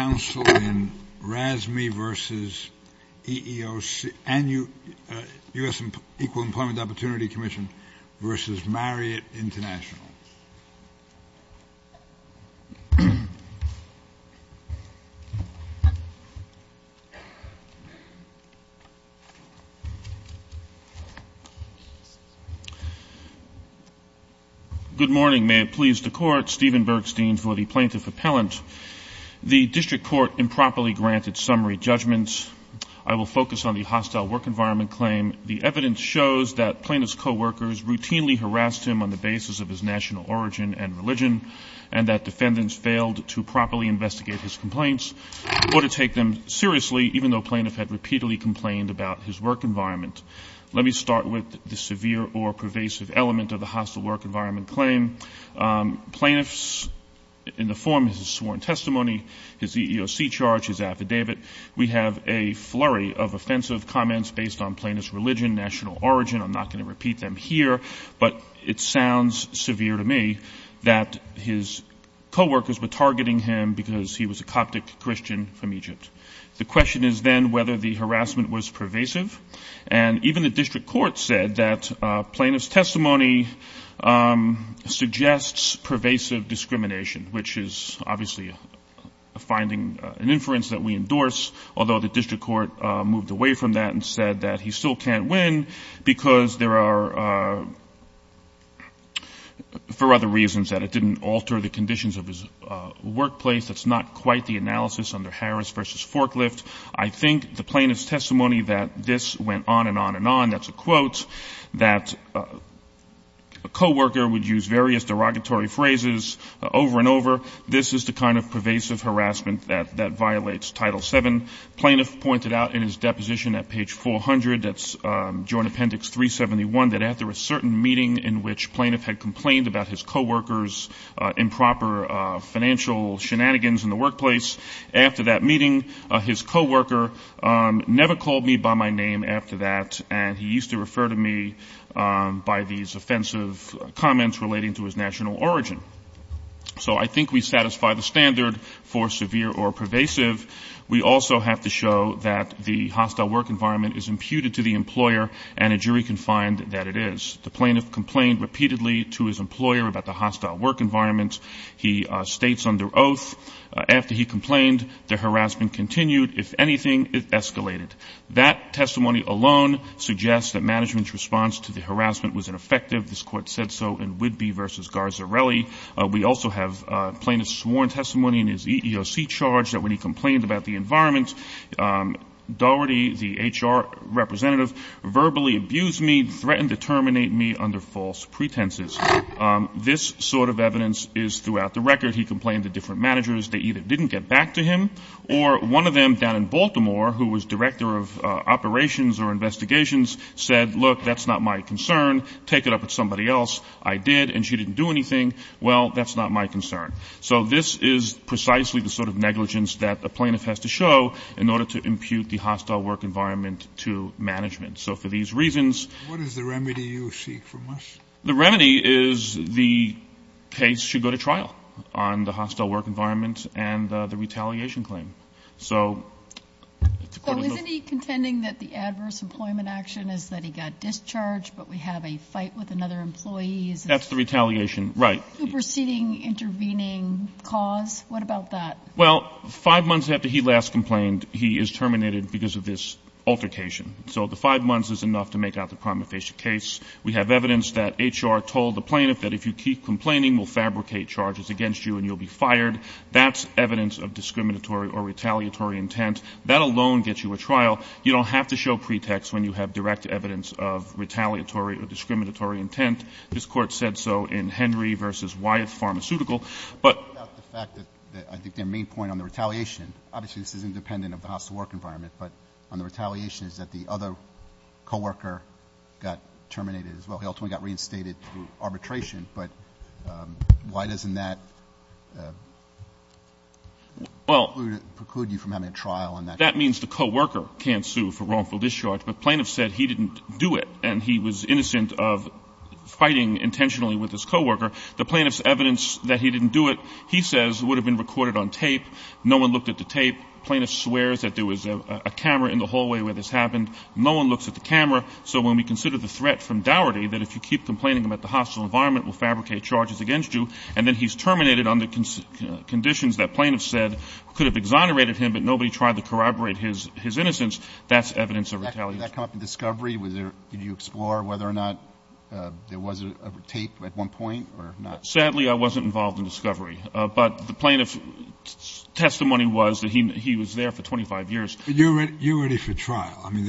Good morning. May it please the Court, Stephen Bergstein for the Plaintiff Appellant. The District Court improperly granted summary judgments. I will focus on the hostile work environment claim. The evidence shows that plaintiff's co-workers routinely harassed him on the basis of his national origin and religion, and that defendants failed to properly investigate his complaints or to take them seriously, even though plaintiff had repeatedly complained about his work environment. Let me start with the severe or pervasive element of the hostile work environment claim. Plaintiffs in the form of his sworn testimony, his EEOC charge, his affidavit, we have a flurry of offensive comments based on plaintiff's religion, national origin. I'm not going to repeat them here, but it sounds severe to me that his co-workers were targeting him because he was a Coptic Christian from Egypt. The question is then whether the harassment was suggests pervasive discrimination, which is obviously finding an inference that we endorse, although the District Court moved away from that and said that he still can't win because there are for other reasons that it didn't alter the conditions of his workplace. That's not quite the analysis under Harris v. Forklift. I think the plaintiff's testimony that this went on and on. That's a quote that a co-worker would use various derogatory phrases over and over. This is the kind of pervasive harassment that violates Title VII. Plaintiff pointed out in his deposition at page 400, that's during Appendix 371, that after a certain meeting in which plaintiff had complained about his co-workers' improper financial shenanigans in the workplace, after that meeting, his co-worker never called me by my name after that, and he used to refer to me by these offensive comments relating to his national origin. So I think we satisfy the standard for severe or pervasive. We also have to show that the hostile work environment is imputed to the employer, and a jury can find that it is. The plaintiff complained repeatedly to his employer about the anything, it escalated. That testimony alone suggests that management's response to the harassment was ineffective. This court said so in Whidbey v. Garzarelli. We also have plaintiff's sworn testimony in his EEOC charge that when he complained about the environment, Doherty, the HR representative, verbally abused me, threatened to terminate me under false pretenses. This sort of evidence is throughout the record. He complained to different managers. They either didn't get back to him, or one of them down in Baltimore, who was director of operations or investigations, said, look, that's not my concern. Take it up with somebody else. I did, and she didn't do anything. Well, that's not my concern. So this is precisely the sort of negligence that the plaintiff has to show in order to impute the hostile work environment to management. So for these reasons... What is the remedy you seek from us? The remedy is the case should go to trial on the hostile work environment and the retaliation claim. So... So isn't he contending that the adverse employment action is that he got discharged, but we have a fight with another employee? That's the retaliation, right. Superseding, intervening cause? What about that? Well, five months after he last complained, he is terminated because of this altercation. So the five months is enough to make out the primary patient case. We have evidence that HR told the plaintiff that if you keep complaining, we'll fabricate charges against you and you'll be fired. That's evidence of discriminatory or retaliatory intent. That alone gets you a trial. You don't have to show pretext when you have direct evidence of retaliatory or discriminatory intent. This court said so in Henry versus Wyatt Pharmaceutical. But that's the fact that I think the main point on the retaliation, obviously, this is independent of the hostile work environment, but on the retaliation is that the other co-worker got reinstated through arbitration. But why doesn't that preclude you from having a trial on that? That means the co-worker can't sue for wrongful discharge. The plaintiff said he didn't do it, and he was innocent of fighting intentionally with his co-worker. The plaintiff's evidence that he didn't do it, he says, would have been recorded on tape. No one looked at the tape. Plaintiff swears that there was a camera in the hallway where this happened. No one looks at the tape complaining that the hostile environment will fabricate charges against you. And then he's terminated under conditions that plaintiffs said could have exonerated him, but nobody tried to corroborate his innocence. That's evidence of retaliation. I talked to Discovery. Did you explore whether or not there was a tape at one point or not? Sadly, I wasn't involved in Discovery. But the plaintiff's testimony was that he was there for 25 years. You're ready for trial. I mean,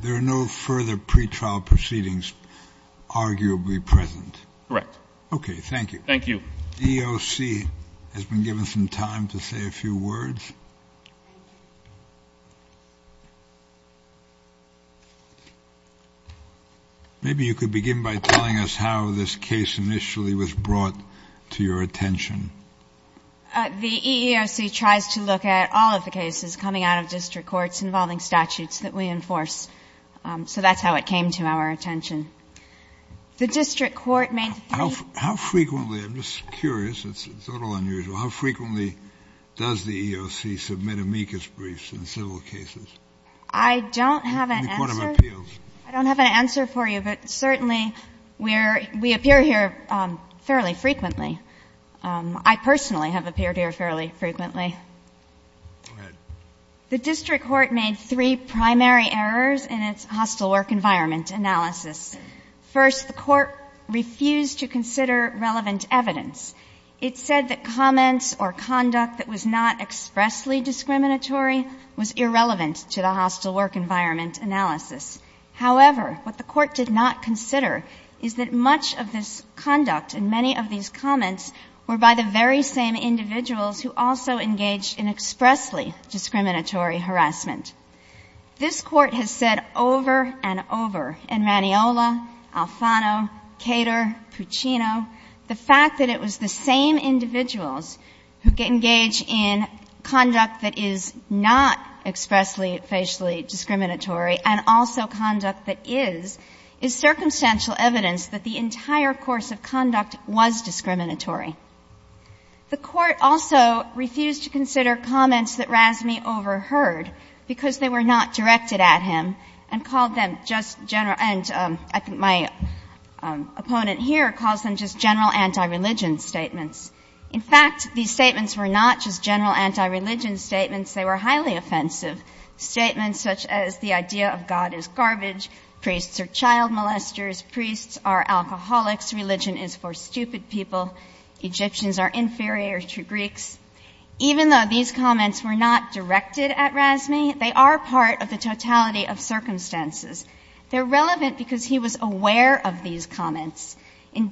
there are no further pre-trial proceedings arguably present. Correct. Okay. Thank you. Thank you. The EEOC has been given some time to say a few words. Maybe you could begin by telling us how this case initially was brought to your attention. The EEOC tries to look at all of the cases coming out of district courts involving statutes that we enforce. So that's how it came to our attention. The district court makes... How frequently, I'm just curious, it's a little unusual, how frequently does the EEOC submit amicus briefs in civil cases? I don't have an answer for you, but certainly we appear here fairly frequently. I personally have appeared here fairly frequently. The district court made three primary errors in its hostile work environment analysis. First, the court refused to consider relevant evidence. It said that comments or conduct that was not expressly discriminatory was irrelevant to the hostile work environment analysis. However, what the court did not consider is that much of this conduct and many of these comments were by the very same individuals who also engaged in expressly discriminatory harassment. This court has said over and over, in Raniola, Alfano, Cater, Puccino, the fact that it was the same individuals who engage in conduct that is not expressly, facially discriminatory and also conduct that is, is circumstantial evidence that the entire course of conduct was discriminatory. The court also refused to consider comments that Razmi overheard because they were not directed at him and called them just general... And I think my opponent here calls them just general anti-religion statements. In fact, these statements were not just general anti-religion statements, they were highly offensive statements such as the idea of God is garbage, priests are child molesters, priests are alcoholics, religion is for stupid people, Egyptians are inferior to Greeks. Even though these comments were not directed at Razmi, they are part of the totality of circumstances. They're relevant because he was aware of these So even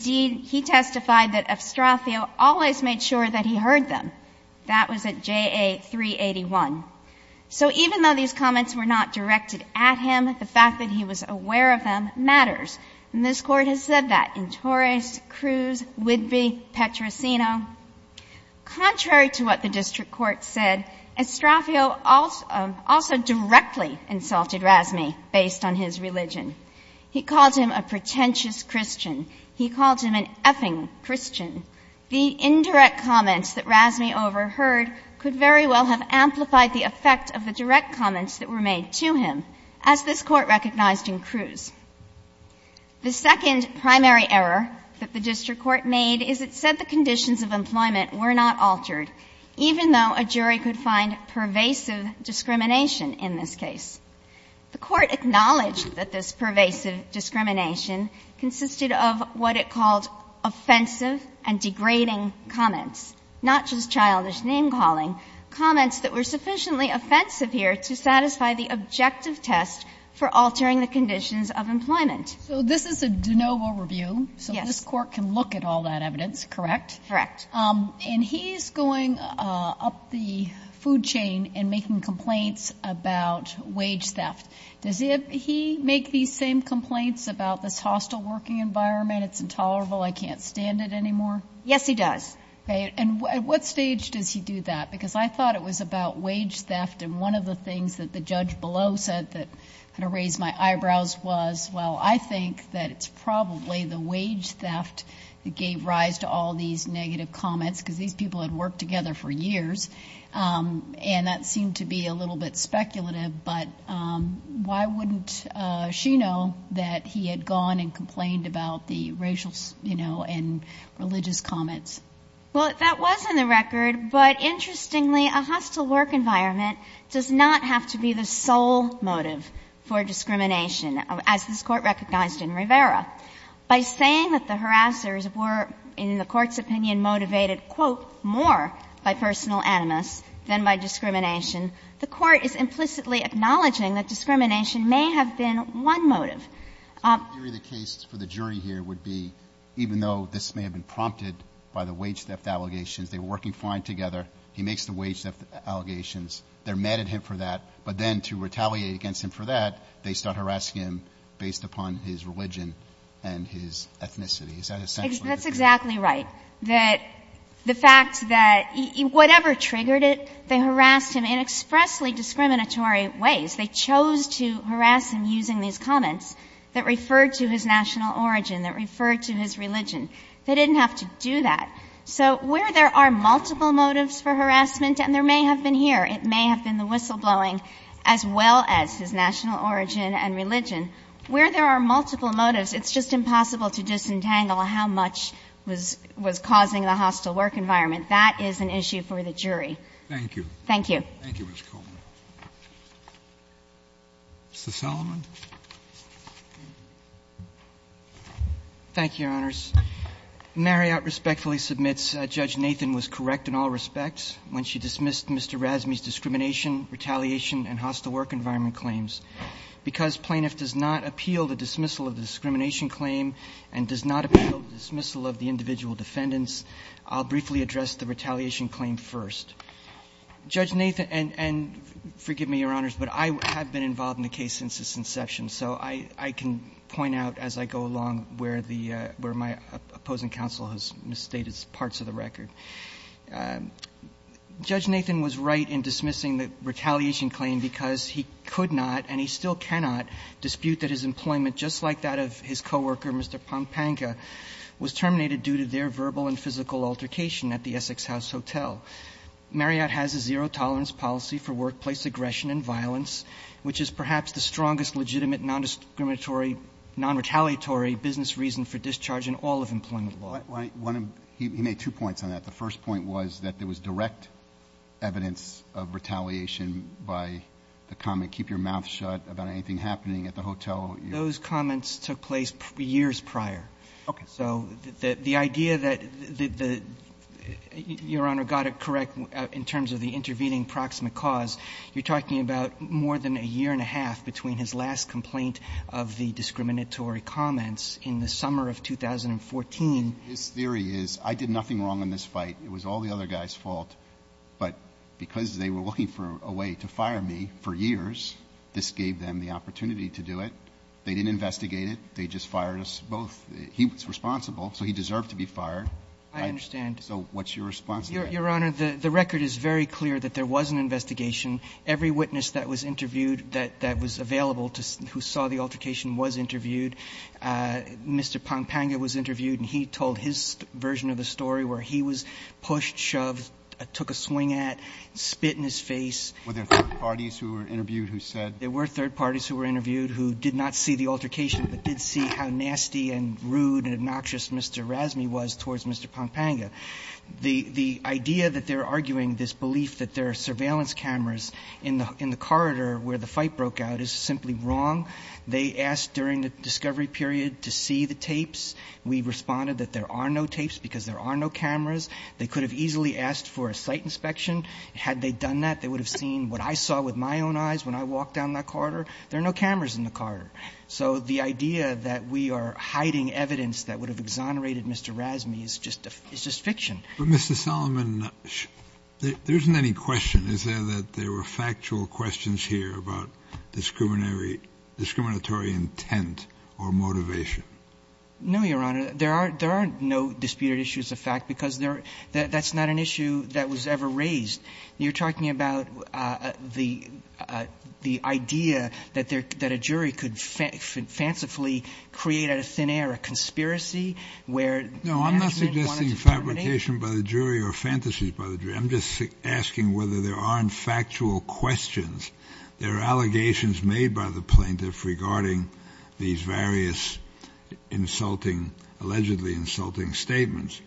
though these comments were not directed at him, the fact that he was aware of them matters. And this court has said that in Torres, Cruz, Whitby, Petrosino. Contrary to what the district court said, Estrafio also directly insulted Razmi based on his religion. He calls him a pretentious Christian. He calls him an effing Christian. The indirect comments that Razmi overheard could very well have amplified the effect of the direct comments that were made to him, as this court recognized in Cruz. The second primary error that the district court made is it said the conditions of employment were not altered, even though a jury could find pervasive discrimination in this case. The court acknowledged that this pervasive discrimination consisted of what it called offensive and degrading comments, not just childish name calling, comments that were sufficiently offensive here to satisfy the objective test for altering the conditions of employment. So this is a de novo review, so this court can look at all that evidence, correct? Correct. And he's going up the food chain and making complaints about wage theft. Does he make these same complaints about this hostile working environment? It's intolerable. I can't stand it anymore. Yes, he does. And what stage does he do that? Because I thought it was about wage theft. And one of the things that the judge below said that kind of raised my eyebrows was, well, I think that it's probably the wage theft that gave rise to all these negative comments because these people had worked together for years. And that seemed to be a little bit speculative. But why wouldn't she know that he had gone and complained about the racial, you know, and religious comments? Well, that was in the record. But interestingly, a hostile work environment does not have to be the sole motive for discrimination, as this court recognized in Rivera. By saying that the harassers were, in the court's opinion, motivated, quote, more by personal animus than by discrimination, the court is implicitly acknowledging that discrimination may have been one motive. The case for the jury here would be, even though this may have been prompted by the wage theft allegations, they were working fine together. He makes the wage theft allegations. They're mad at him for that. But then to retaliate against him for that, they start harassing him based upon his religion and his ethnicity. Is that essential? That's that. Whatever triggered it, they harassed him in expressly discriminatory ways. They chose to harass him using these comments that referred to his national origin, that referred to his religion. They didn't have to do that. So where there are multiple motives for harassment, and there may have been here. It may have been the whistleblowing, as well as his national origin and religion. Where there are multiple motives, it's just impossible to disentangle how much was causing a hostile work environment. That is an issue for the jury. Thank you. Thank you. Thank you, Ms. Coleman. Mr. Solomon. Thank you, Your Honors. Marriott respectfully submits Judge Nathan was correct in all respects when she dismissed Mr. Rasmus' discrimination, retaliation, and hostile work environment claims. Because plaintiff does not appeal the dismissal of the discrimination claim and does not appeal the dismissal of the individual defendants, I'll briefly address the retaliation claim first. Judge Nathan, and forgive me, Your Honors, but I have been involved in the case since its inception, so I can point out as I go along where my opposing counsel has misstated parts of the record. Judge Nathan was right in dismissing the retaliation claim because he could not, and he still cannot, dispute that his employment, just like that of his co-worker, Mr. Pampanga, was terminated due to their verbal and physical altercation at the Essex House Hotel. Marriott has a zero-tolerance policy for workplace aggression and violence, which is perhaps the strongest legitimate non-discriminatory, non-retaliatory business reason for discharge in all of employment law. He made two points on that. The first point was that there was direct evidence of retaliation by the comment, keep your mouth shut about anything happening at the hotel. Those comments took place years prior. So the idea that, Your Honor, got it correct in terms of the intervening proximate cause, you're talking about more than a year and a half between his last complaint of the discriminatory comments in the summer of 2014. His theory is, I did nothing wrong in this fight. It was all the other guy's fault. But because they were looking for a way to fire me for years, this gave them the opportunity to do it. They didn't investigate it. They just fired us both. He was responsible, so he deserved to be fired. I understand. So what's your response? Your Honor, the record is very clear that there was an investigation. Every witness that was interviewed, that was available, who saw the altercation was interviewed. Mr. Pampanga was interviewed and he told his version of the story where he was pushed, shoved, took a swing at, spit in his face. Were there third parties who were interviewed who said? There were third parties who were interviewed who did not see the altercation, but did see how nasty and rude and obnoxious Mr. Razmi was towards Mr. Pampanga. The idea that they're arguing this belief that there are surveillance cameras in the corridor where the fight broke out is simply wrong. They asked during the discovery period to see the tapes. We responded that there are no tapes because there are no cameras. They could have easily asked for a site inspection. Had they done that, they would have seen what I saw with my own eyes when I walked down the corridor. There are no cameras in the corridor. So the idea that we are hiding evidence that would have exonerated Mr. Razmi is just fiction. Mr. Solomon, there isn't any question. Is there that there were factual questions here about discriminatory intent or motivation? No, Your Honor. There are no disputed issues of fact because that's not an issue that was ever raised. You're talking about the idea that a jury could fancifully create a thin air, a conspiracy where- No, I'm not suggesting fabrication by the jury or fantasies by the jury. I'm just asking whether there aren't factual questions. There are allegations made by the plaintiff regarding these various allegedly insulting statements.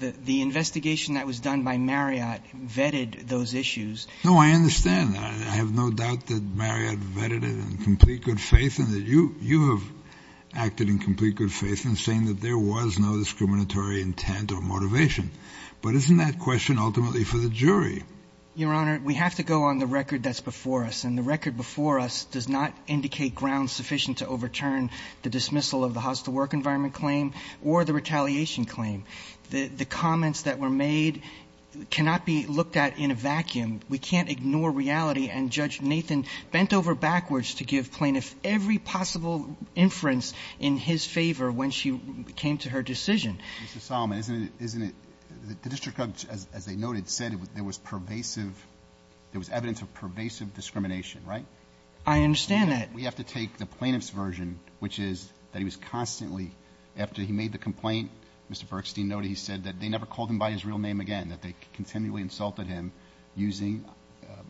The investigation that was done by Marriott vetted those issues. No, I understand. I have no doubt that Marriott vetted it in complete good faith and that you have acted in complete good faith in saying that there was no discriminatory intent or motivation. But isn't that question ultimately for the jury? Your Honor, we have to go on the record that's before us. The record before us does not indicate ground sufficient to overturn the dismissal of the house-to-work environment claim or the retaliation claim. The comments that were made cannot be looked at in a vacuum. We can't ignore reality and Judge Nathan bent over backwards to give plaintiffs every possible inference in his favor when she came to her decision. Mr. Solomon, the district judge, as they noted, said there was evidence of pervasive discrimination, right? I understand that. We have to take the plaintiff's version, which is that he was constantly, after he made the complaint, Mr. Berkstein noted he said that they never called him by his real name again, that they continually insulted him using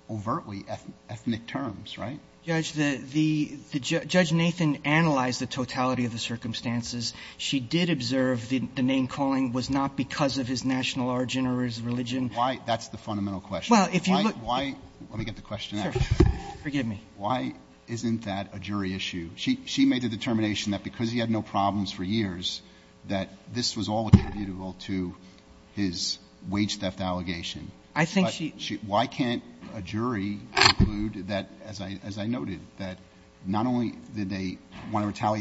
overtly ethnic terms, right? Judge Nathan analyzed the totality of the circumstances. She did observe the main calling was not because of his national origin or his religion. Why? That's the fundamental question. Well, if you look... Why? Let me get the question. Forgive me. Why isn't that a jury issue? She made the determination that because he had no problems for years, that this was all attributable to his wage theft allegation. I think she... Why can't a jury conclude that, as I noted, that not only did they want to retaliate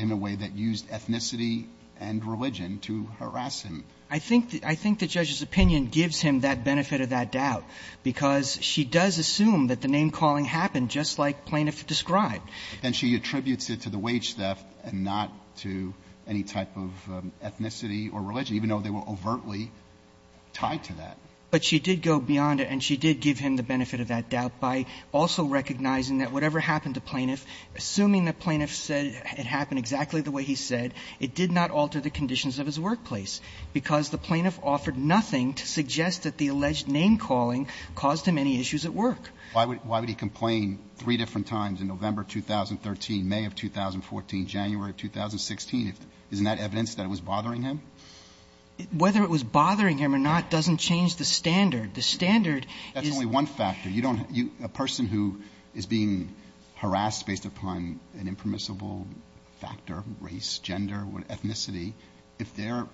in a way that used ethnicity and religion to harass him? I think the judge's opinion gives him that benefit of that doubt because she does assume that the main calling happened just like plaintiff described. Then she attributes it to the wage theft and not to any type of ethnicity or religion, even though they were overtly tied to that. But she did go beyond it and she did give him the benefit of that doubt by also recognizing that whatever happened to plaintiff, assuming that plaintiff said it happened exactly the way he said, it did not alter the conditions of his workplace because the plaintiff offered nothing to suggest that the alleged name calling caused him any issues at work. Why would he complain three different times in November 2013, May of 2014, January 2016? Isn't that evidence that it was bothering him? Whether it was bothering him or not doesn't change the standard. The standard... That's only one factor. A person who is being harassed based upon an impermissible factor, race, gender, ethnicity, if they're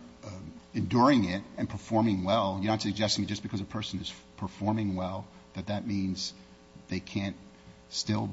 enduring it and performing well, you're not suggesting just because a person is performing well, but that means they can't still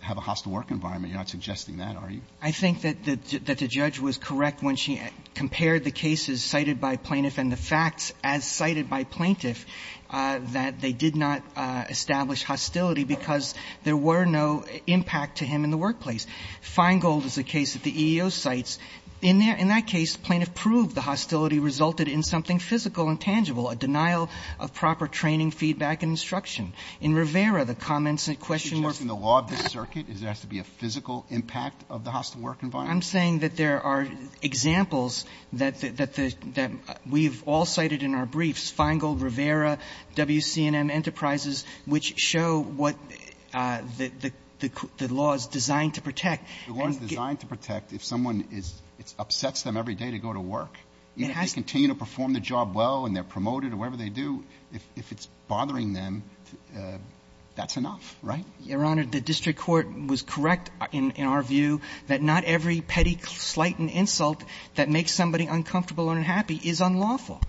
have a hostile work environment. You're not suggesting that, are you? I think that the judge was correct when she compared the cases cited by plaintiff and the fact, as cited by plaintiff, that they did not establish hostility because there were no impact to him in the workplace. Feingold is a case that the EEO cites. In that case, plaintiff proved the hostility resulted in something physical and tangible, a denial of proper training, feedback, and instruction. In Rivera, the comments and question... She's judging the law of the circuit. Does it have to be a physical impact of the hostile work environment? I'm saying that there are examples that we've all cited in our briefs, Feingold, Rivera, WC&M Enterprises, which show what the law is designed to protect. The law is designed to protect if someone is... It upsets them every day to go to work. If they continue to perform the job well and they're promoted or whatever they do, if it's bothering them, that's enough, right? Your Honor, the district court was correct in our view that not every petty slight and insult that makes somebody uncomfortable or unhappy is unlawful.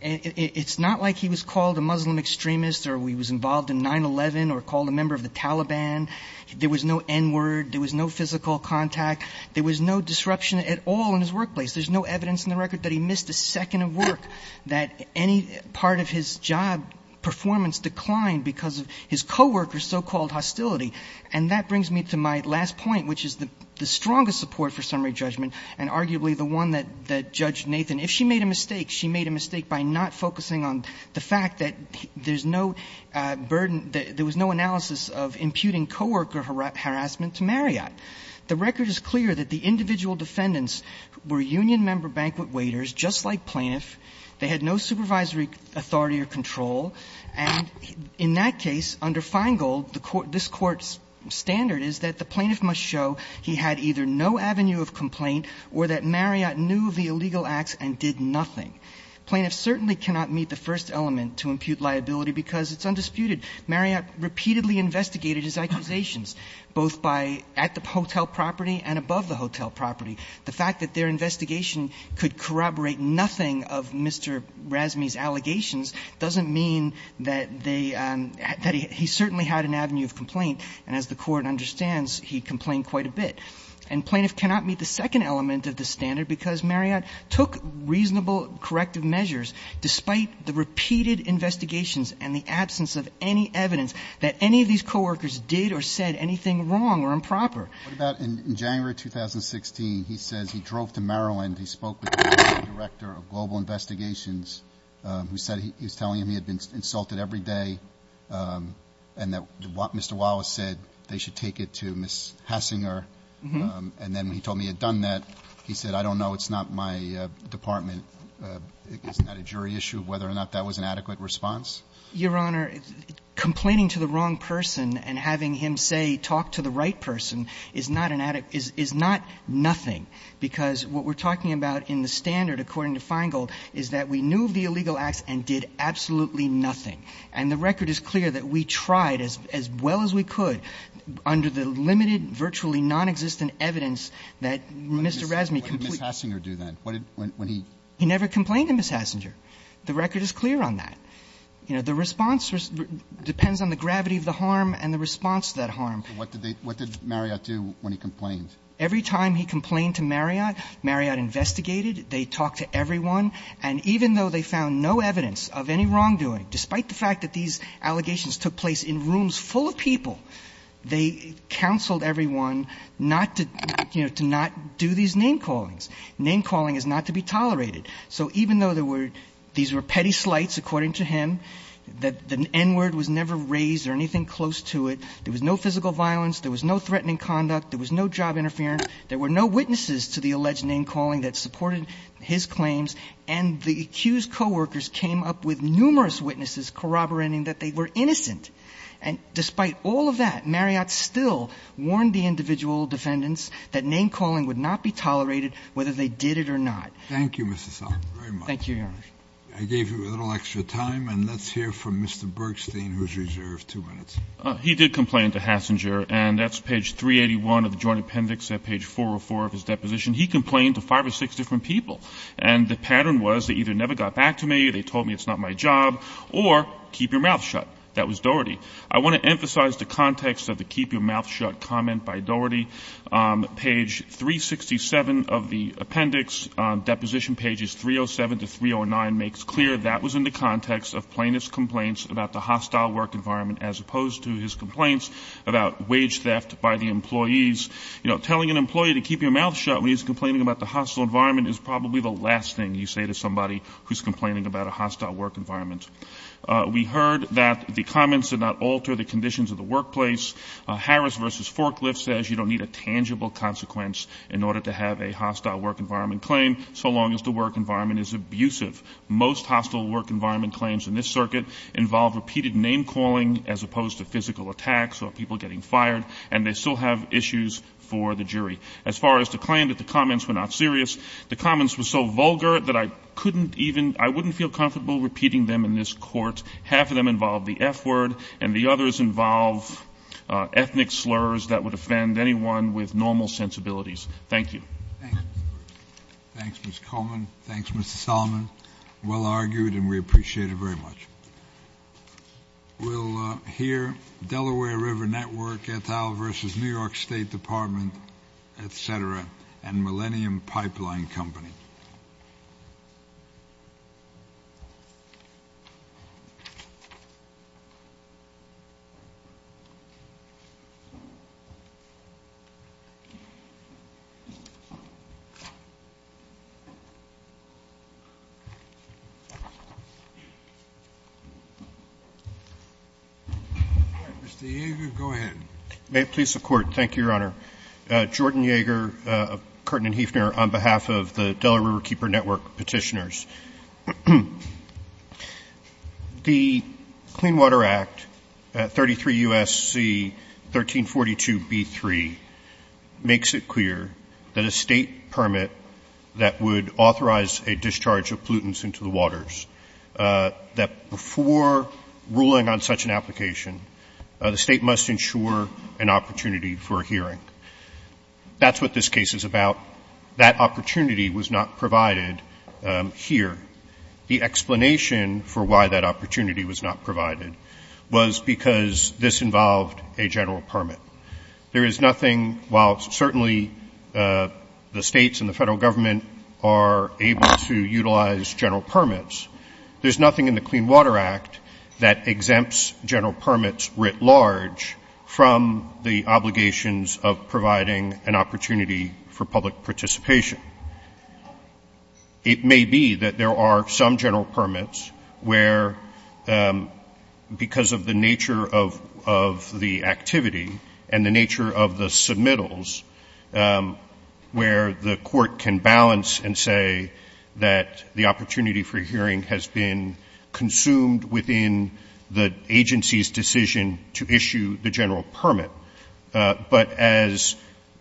It's not like he was called a Muslim extremist or he was involved in 9-11 or called a member of the Taliban. There was no N-word. There was no physical contact. There was no disruption at all in his workplace. There's no evidence in the record that he missed a second of work, that any part of his job performance declined because of his co-worker's so-called hostility. And that brings me to my last point, which is the strongest support for summary judgment, and arguably the one that Judge Nathan... If she made a mistake, she made a mistake by not focusing on the fact that there's no burden... There was no analysis of imputing co-worker harassment to Marriott. The record is clear that the individual defendants were union member banquet waiters, just like plaintiff. They had no supervisory authority or control, and in that case, under Feingold, this court's standard is that the plaintiff must show he had either no avenue of complaint or that Marriott knew the illegal acts and did nothing. Plaintiff certainly cannot meet the first element to impute liability because it's undisputed. Marriott repeatedly investigated his accusations, both at the hotel property and above the hotel property. The fact that their investigation could corroborate nothing of Mr. Razmi's allegations doesn't mean that he certainly had an avenue of complaint, and as the court understands, he complained quite a bit. And plaintiff cannot meet the second element of the standard because Marriott took reasonable corrective measures, despite the repeated investigations and the absence of any evidence that any of these co-workers did or said anything wrong or improper. What about in January 2016, he said he drove to Maryland. He spoke with the director of global investigations, who said he's telling him he had been insulted every day and that Mr. Wallace said they should take it to Ms. Hassinger, and then he told me he had done that. He said, I don't know. It's not my department. It's not a jury issue whether or not that was an adequate response. Your Honor, complaining to the wrong person and having him say, talk to the right person is not an adequate, is not nothing, because what we're talking about in the standard, according to Feingold, is that we knew the illegal act and did absolutely nothing. And the record is clear that we tried as well as we could under the limited, virtually non-existent evidence that Mr. Razmi completely… What did Ms. Hassinger do then? He never complained to Ms. Hassinger. The record is clear on that. The response depends on the gravity of the harm and the response to that harm. What did Marriott do when he complained? Every time he complained to Marriott, Marriott investigated. They talked to everyone. And even though they found no evidence of any wrongdoing, despite the fact that these allegations took place in rooms full of people, they counseled everyone not to do these name callings. Name calling is not to be tolerated. So even though these were petty slights, according to him, the N-word was never raised or anything close to it, there was no physical violence, there was no threatening conduct, there was no job interference, there were no witnesses to the alleged name calling that supported his claims, and the accused co-workers came up with numerous witnesses corroborating that they were innocent. And despite all of that, Marriott still warned the individual defendants that name calling would not be tolerated, whether they did it or not. Thank you, Mr. Salk, very much. Thank you, Your Honor. I gave you a little extra time, and let's hear from Mr. Bergstein, who's reserved two minutes. He did complain to Hassinger, and that's page 381 of the Joint Appendix at page 404 of his deposition. He complained to five or six different people, and the pattern was they either never got back to me, they told me it's not my job, or keep your mouth shut. That was Doherty. I want to emphasize the context of the keep your mouth shut comment by Doherty. Page 367 of the appendix, deposition pages 307 to 309, makes clear that was in the context of plaintiff's complaints about the hostile work environment, as opposed to his complaints about wage theft by the employees. Telling an employee to keep your mouth shut when he's complaining about the hostile environment is probably the last thing you say to somebody who's complaining about a hostile work environment. We heard that the comments did not alter the conditions of the workplace. Harris versus Forklift says you don't need a tangible consequence in order to have a hostile work environment claim, so long as the work environment is abusive. Most hostile work environment claims in this circuit involve repeated name calling as opposed to physical attacks or people getting fired, and they still have issues for the jury. As far as the claim that the comments were not serious, the comments were so vulgar that I couldn't even, I wouldn't feel comfortable repeating them in this court. Half of them involve the F word, and the others involve ethnic slurs that would offend anyone with normal sensibilities. Thank you. Thanks, Mr. Coleman. Thanks, Mr. Solomon. Well argued, and we appreciate it very much. We'll hear Delaware River Network, Ethel versus New York State Department, et cetera, and Millennium Pipeline Company. Mr. Yeager, go ahead. May it please the Court. Thank you, Your Honor. Jordan Yeager, Courtman and Hefner, on behalf of the Delaware Riverkeeper Network petitioners. The Clean Water Act, 33 U.S.C. 1342b3, makes it clear that a state permit that would authorize a discharge of pollutants into the waters, that before ruling on such an application, the state must ensure an opportunity for a hearing. That's what this case is about. That opportunity was not provided here. The explanation for why that opportunity was not provided was because this involved a general permit. There is nothing, while certainly the states and the federal government are able to utilize general permits, there's nothing in the Clean Water Act that exempts general permits writ the obligations of providing an opportunity for public participation. It may be that there are some general permits where, because of the nature of the activity and the nature of the submittals, where the Court can balance and say that the opportunity has been consumed within the agency's decision to issue the general permit. But as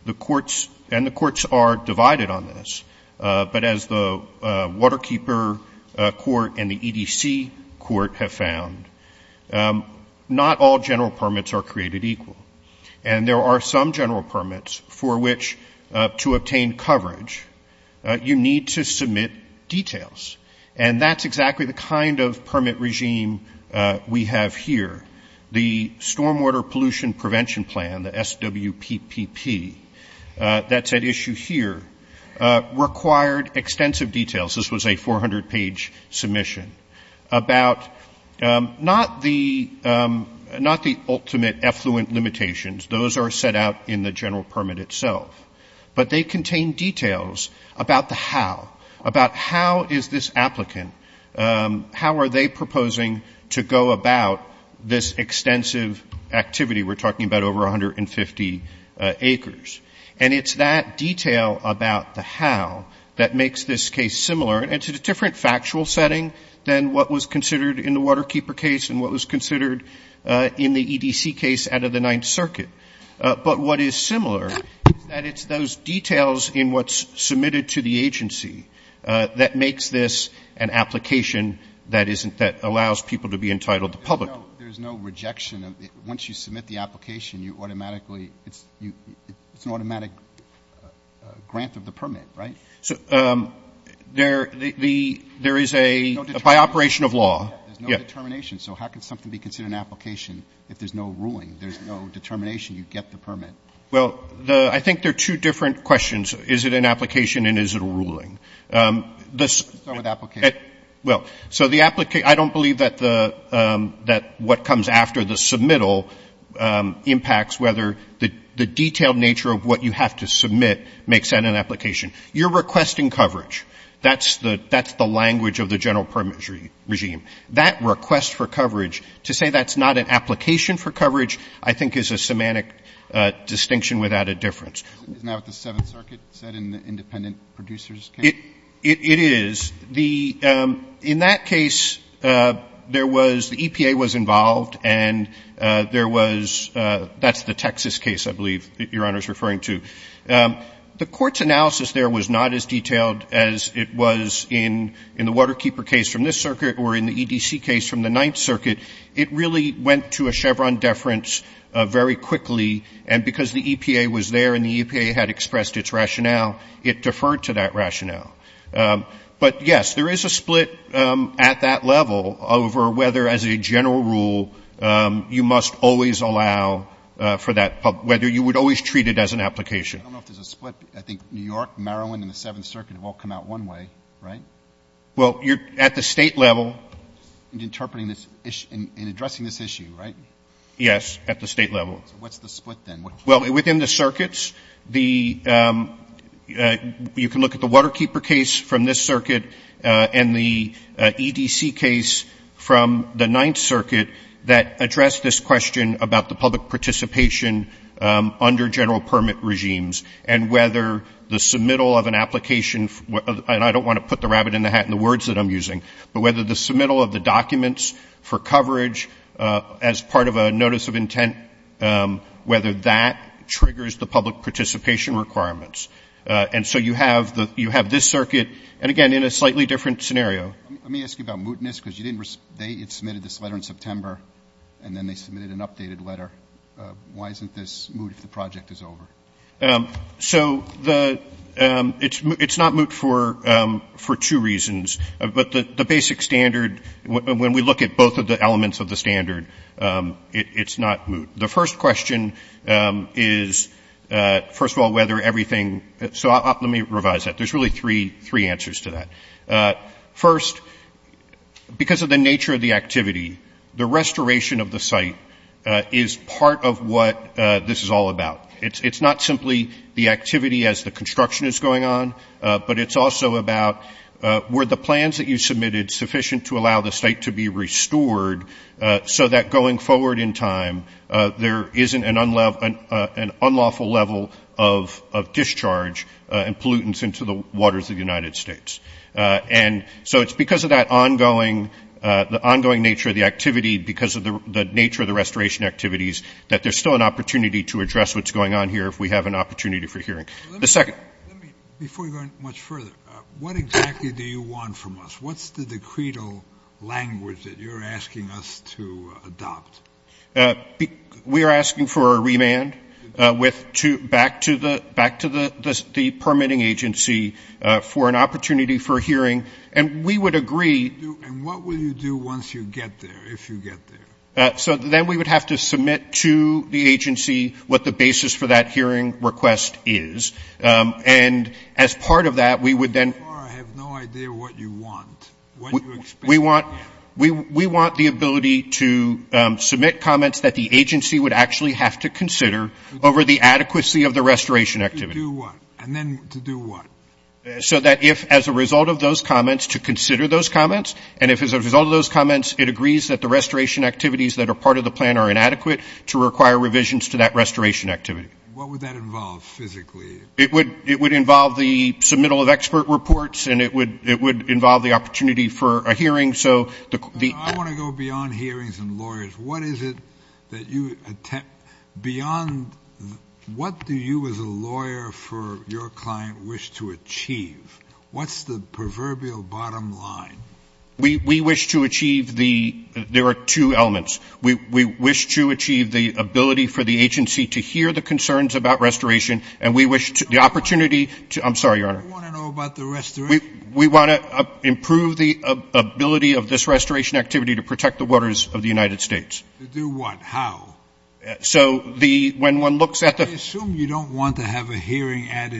the courts, and the courts are divided on this, but as the Waterkeeper Court and the EDC Court have found, not all general permits are created equal. And there are some general permits for which, to obtain coverage, you need to submit details. And that's exactly the kind of permit regime we have here. The Stormwater Pollution Prevention Plan, the SWPPP, that's at issue here, required extensive details. This was a 400-page submission about not the ultimate effluent limitations. Those are set out in the general permit itself. But they contain details about the how, about how is this applicant, how are they proposing to go about this extensive activity? We're talking about over 150 acres. And it's that detail about the how that makes this case similar. It's a different factual setting than what was considered in the Waterkeeper case and what was considered in the EDC case out of the Ninth Circuit. But what is similar, that it's those details in what's submitted to the agency that makes this an application that isn't, that allows people to be entitled to public. There's no rejection. Once you submit the application, you automatically, it's an automatic grant of the permit, right? So there is a, by operation of law. There's no determination. So how can something be considered an application if there's no ruling? There's no determination. You get the permit. Well, the, I think they're two different questions. Is it an application and is it a ruling? Well, so the, I don't believe that the, that what comes after the submittal impacts whether the detailed nature of what you have to submit makes that an application. You're requesting coverage. That's the language of the general permit regime. That request for coverage, to say that's not an application for coverage, I think is a semantic distinction without a difference. Now with the Seventh Circuit, is that an independent producer's case? It, it is. The, in that case, there was, the EPA was involved and there was, that's the Texas case, I believe, Your Honor's referring to. The court's analysis there was not as detailed as it was in, in the Waterkeeper case from the circuit or in the EDC case from the Ninth Circuit. It really went to a Chevron deference very quickly and because the EPA was there and the EPA had expressed its rationale, it deferred to that rationale. But yes, there is a split at that level over whether as a general rule you must always allow for that, whether you would always treat it as an application. I don't know if there's a split. I think New York, Maryland, and the Seventh Circuit have all come out one way, right? Well, you're at the state level. Interpreting this issue, in addressing this issue, right? Yes, at the state level. What's the split then? Well, within the circuits, the, you can look at the Waterkeeper case from this circuit and the EDC case from the Ninth Circuit that addressed this question about the public participation under general permit regimes and whether the submittal of an application, and I don't want to put the rabbit in the hat in the words that I'm using, but whether the submittal of the documents for coverage as part of a notice of intent, whether that triggers the public participation requirements. And so you have this circuit, and again, in a slightly different scenario. Let me ask you about mootness because you didn't, they had submitted this letter in September and then they submitted an updated letter. Why isn't this moot if the project is over? So the, it's not moot for two reasons, but the basic standard, when we look at both of the elements of the standard, it's not moot. The first question is, first of all, whether everything, so let me revise that. There's really three answers to that. First, because of the nature of the activity, the restoration of the site is part of what this is all about. It's not simply the activity as the construction is going on, but it's also about were the plans that you submitted sufficient to allow the site to be restored so that going forward in time there isn't an unlawful level of discharge and pollutants into the waters of the United States. And so it's because of that ongoing, the ongoing nature of the activity because of the nature of the restoration activities that there's still an opportunity to address what's going on here if we have an opportunity for hearing. Let me, before you go much further, what exactly do you want from us? What's the decreto language that you're asking us to adopt? We are asking for a remand with, back to the permitting agency for an opportunity for hearing. And we would agree. And what will you do once you get there, if you get there? So then we would have to submit to the agency what the basis for that hearing request is. And as part of that, we would then- I have no idea what you want. We want the ability to submit comments that the agency would actually have to consider over the adequacy of the restoration activity. To do what? And then to do what? So that if, as a result of those comments, to consider those comments, and if as a result of those comments, it agrees that the restoration activities that are part of the plan are inadequate to require revisions to that restoration activity. What would that involve physically? It would involve the submittal of expert reports. And it would involve the opportunity for a hearing. So the- I want to go beyond hearings and lawyers. What is it that you attempt beyond- what do you as a lawyer for your client wish to achieve? What's the proverbial bottom line? We wish to achieve the- there are two elements. We wish to achieve the ability for the agency to hear the concerns about restoration, and we wish to- the opportunity to- I'm sorry, Your Honor. What do you want to know about the restoration? We want to improve the ability of this restoration activity to protect the waters of the United States. To do what? How? So the- when one looks at the- I assume you don't want to have a hearing ad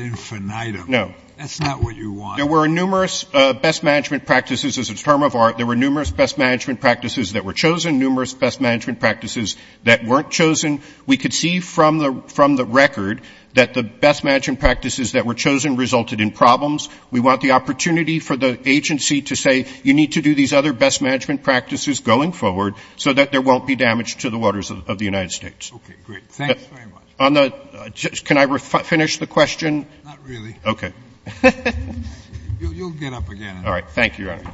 infinitum. No. That's not what you want. There were numerous best management practices as a term of art. There were numerous best management practices that were chosen, numerous best management practices that weren't chosen. We could see from the record that the best management practices that were chosen resulted in problems. We want the opportunity for the agency to say, you need to do these other best management practices going forward so that there won't be damage to the waters of the United States. Okay, great. Thanks very much. On the- can I finish the question? Not really. Okay. You'll get up again. All right. Thank you, Your Honor.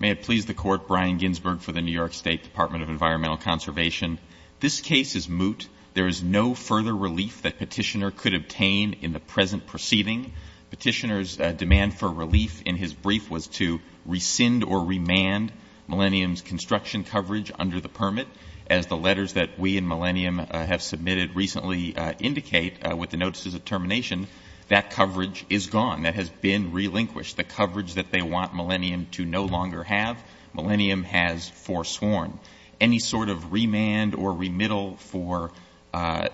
May it please the Court, Brian Ginsberg for the New York State Department of Environmental Conservation. This case is moot. There is no further relief that Petitioner could obtain in the present proceeding. Petitioner's demand for relief in his brief was to rescind or remand Millennium's construction coverage under the permit. As the letters that we and Millennium have submitted recently indicate with the notices of termination, that coverage is gone. That has been relinquished. The coverage that they want Millennium to no longer have, Millennium has forsworn. Any sort of remand or remittal for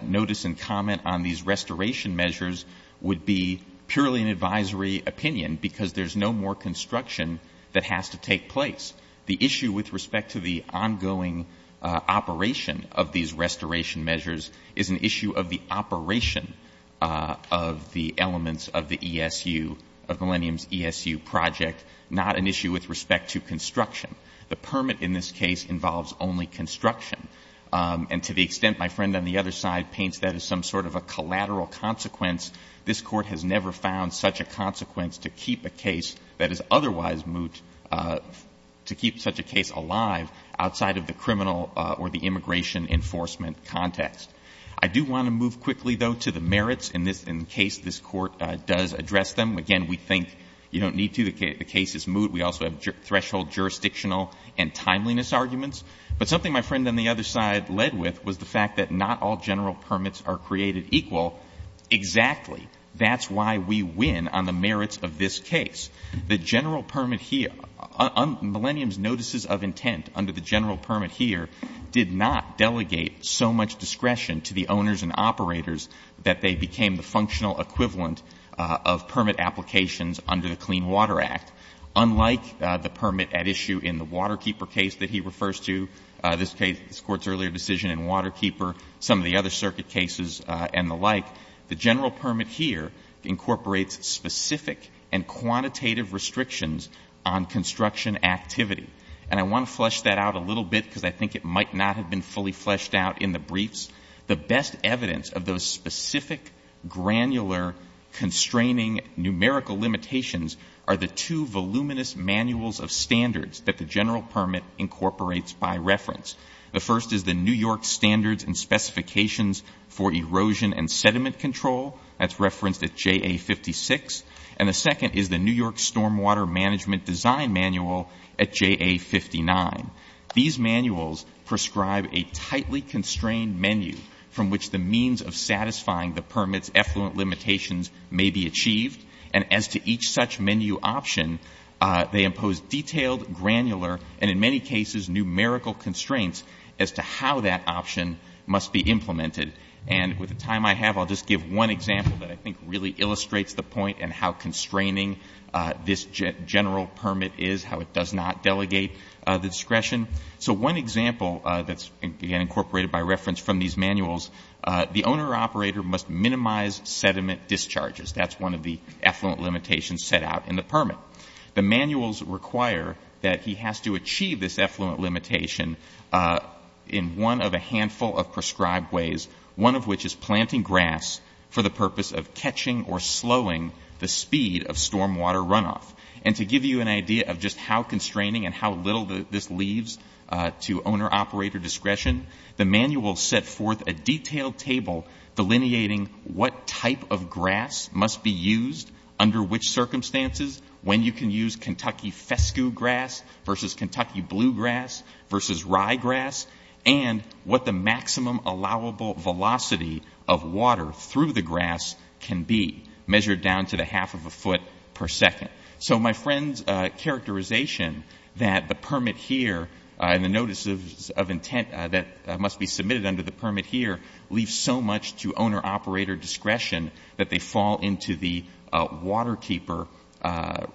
notice and comment on these restoration measures would be purely an advisory opinion because there's no more construction that has to take place. The issue with respect to the ongoing operation of these restoration measures is an issue of the operation of the elements of the ESU, of Millennium's ESU project, not an issue with respect to construction. The permit in this case involves only construction. And to the extent my friend on the other side paints that as some sort of a collateral consequence, this Court has never found such a consequence to keep a case that is otherwise moot to keep such a case alive outside of the criminal or the immigration enforcement context. I do want to move quickly, though, to the merits in case this Court does address them. Again, we think you don't need to. The case is moot. We also have threshold jurisdictional and timeliness arguments. But something my friend on the other side led with was the fact that not all general permits are created equal. Exactly. That's why we win on the merits of this case. The general permit here, Millennium's notices of intent under the general permit here did not delegate so much discretion to the owners and operators that they became the functional equivalent of permit applications under the Clean Water Act. Unlike the permit at issue in the Waterkeeper case that he refers to, this Court's earlier decision in Waterkeeper, some of the other circuit cases and the like, the general permit here incorporates specific and quantitative restrictions on construction activity. And I want to flesh that out a little bit because I think it might not have been fully fleshed out in the briefs. The best evidence of those specific granular constraining numerical limitations are the two voluminous manuals of standards that the general permit incorporates by reference. The first is the New York Standards and Specifications for Erosion and Sediment Control. That's referenced at JA 56. And the second is the New York Stormwater Management Design Manual at JA 59. These manuals prescribe a tightly constrained menu from which the means of satisfying the permit's effluent limitations may be achieved. And as to each such menu option, they impose detailed, granular, and in many cases numerical constraints as to how that option must be implemented. And with the time I have, I'll just give one example that I think really illustrates the point and how constraining this general permit is, how it does not delegate the discretion. So one example that's incorporated by reference from these manuals, the owner-operator must minimize sediment discharges. That's one of the effluent limitations set out in the permit. The manuals require that he has to achieve this effluent limitation in one of a handful of prescribed ways, one of which is planting grass for the purpose of catching or slowing the speed of stormwater runoff. And to give you an idea of just how constraining and how little this leads to owner-operator discretion, the manuals set forth a detailed table delineating what type of grass must be used, under which circumstances, when you can use Kentucky fescue grass versus Kentucky bluegrass versus ryegrass, and what the maximum allowable velocity of water through the grass can be, measured down to the half of a foot per second. So my friend's characterization that the permit here and the notices of intent that must be submitted under the permit here leave so much to owner-operator discretion that they fall into the waterkeeper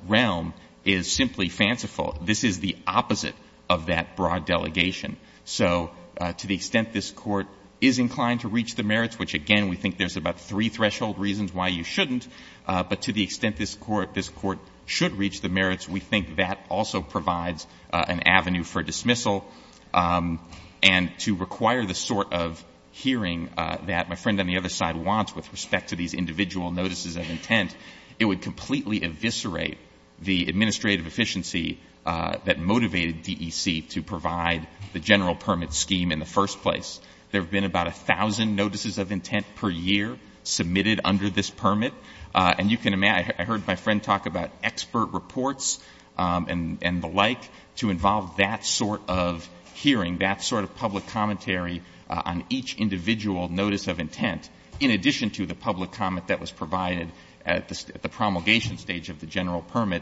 realm is simply fanciful. This is the opposite of that broad delegation. So to the extent this Court is inclined to reach the merits, which, again, we think there's about three threshold reasons why you shouldn't, but to the extent this Court should reach the merits, we think that also provides an avenue for dismissal and to require the sort of hearing that my friend on the other side wants with respect to these individual notices of intent, it would completely eviscerate the administrative efficiency that motivated DEC to provide the general permit scheme in the first place. There have been about 1,000 notices of intent per year submitted under this permit, and you can imagine, I heard my friend talk about expert reports and the like to involve that sort of hearing, that sort of public commentary on each individual notice of intent, in addition to the public comment that was provided at the promulgation stage of the general permit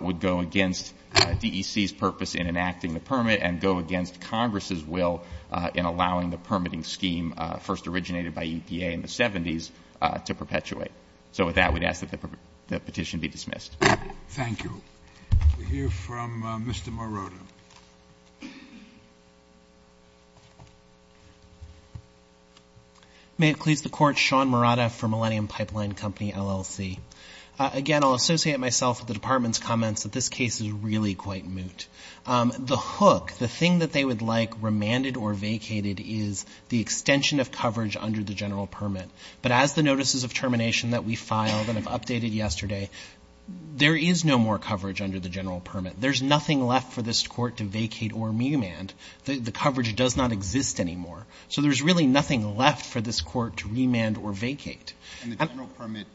would go against DEC's purpose in enacting the permit and go against Congress' will in allowing the permitting scheme first originated by EPA in the 70s to perpetuate. So with that, we'd ask that the petition be dismissed. Thank you. We'll hear from Mr. Morota. May it please the Court, Sean Morota for Millennium Pipeline Company, LLC. Again, I'll associate myself with the Department's comments that this case is really quite moot. The hook, the thing that they would like remanded or vacated is the extension of coverage under the general permit, but as the notices of termination that we filed and have updated yesterday, there is no more coverage under the general permit. There's nothing left for this court to vacate or remand. The coverage does not exist anymore. So there's really nothing left for this court to remand or vacate. And the general permit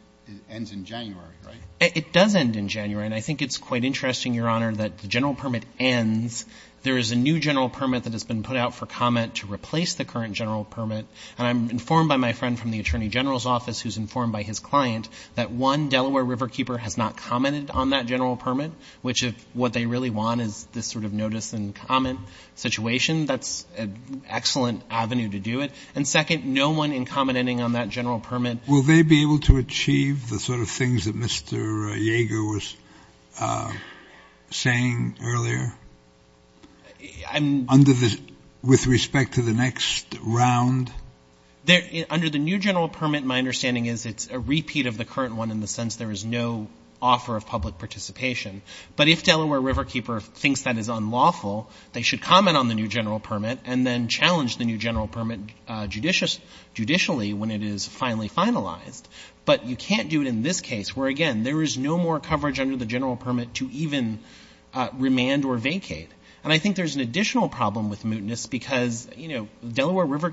ends in January, right? It does end in January, and I think it's quite interesting, Your Honor, that the general permit ends, there is a new general permit that has been put out for comment to replace the current general permit, and I'm informed by my friend from the Attorney General's office who's informed by his client that one Delaware Riverkeeper has not commented on that general permit, which if what they really want is this sort of notice and comment situation, that's an excellent avenue to do it. And second, no one in commenting on that general permit. Will they be able to achieve the sort of things that Mr. Yeager was saying earlier? Under the, with respect to the next round? Under the new general permit, my understanding is it's a repeat of the current one in the offer of public participation. But if Delaware Riverkeeper thinks that is unlawful, they should comment on the new general permit and then challenge the new general permit judicially when it is finally finalized. But you can't do it in this case, where again, there is no more coverage under the general permit to even remand or vacate. And I think there's an additional problem with mootness because, you know, Delaware there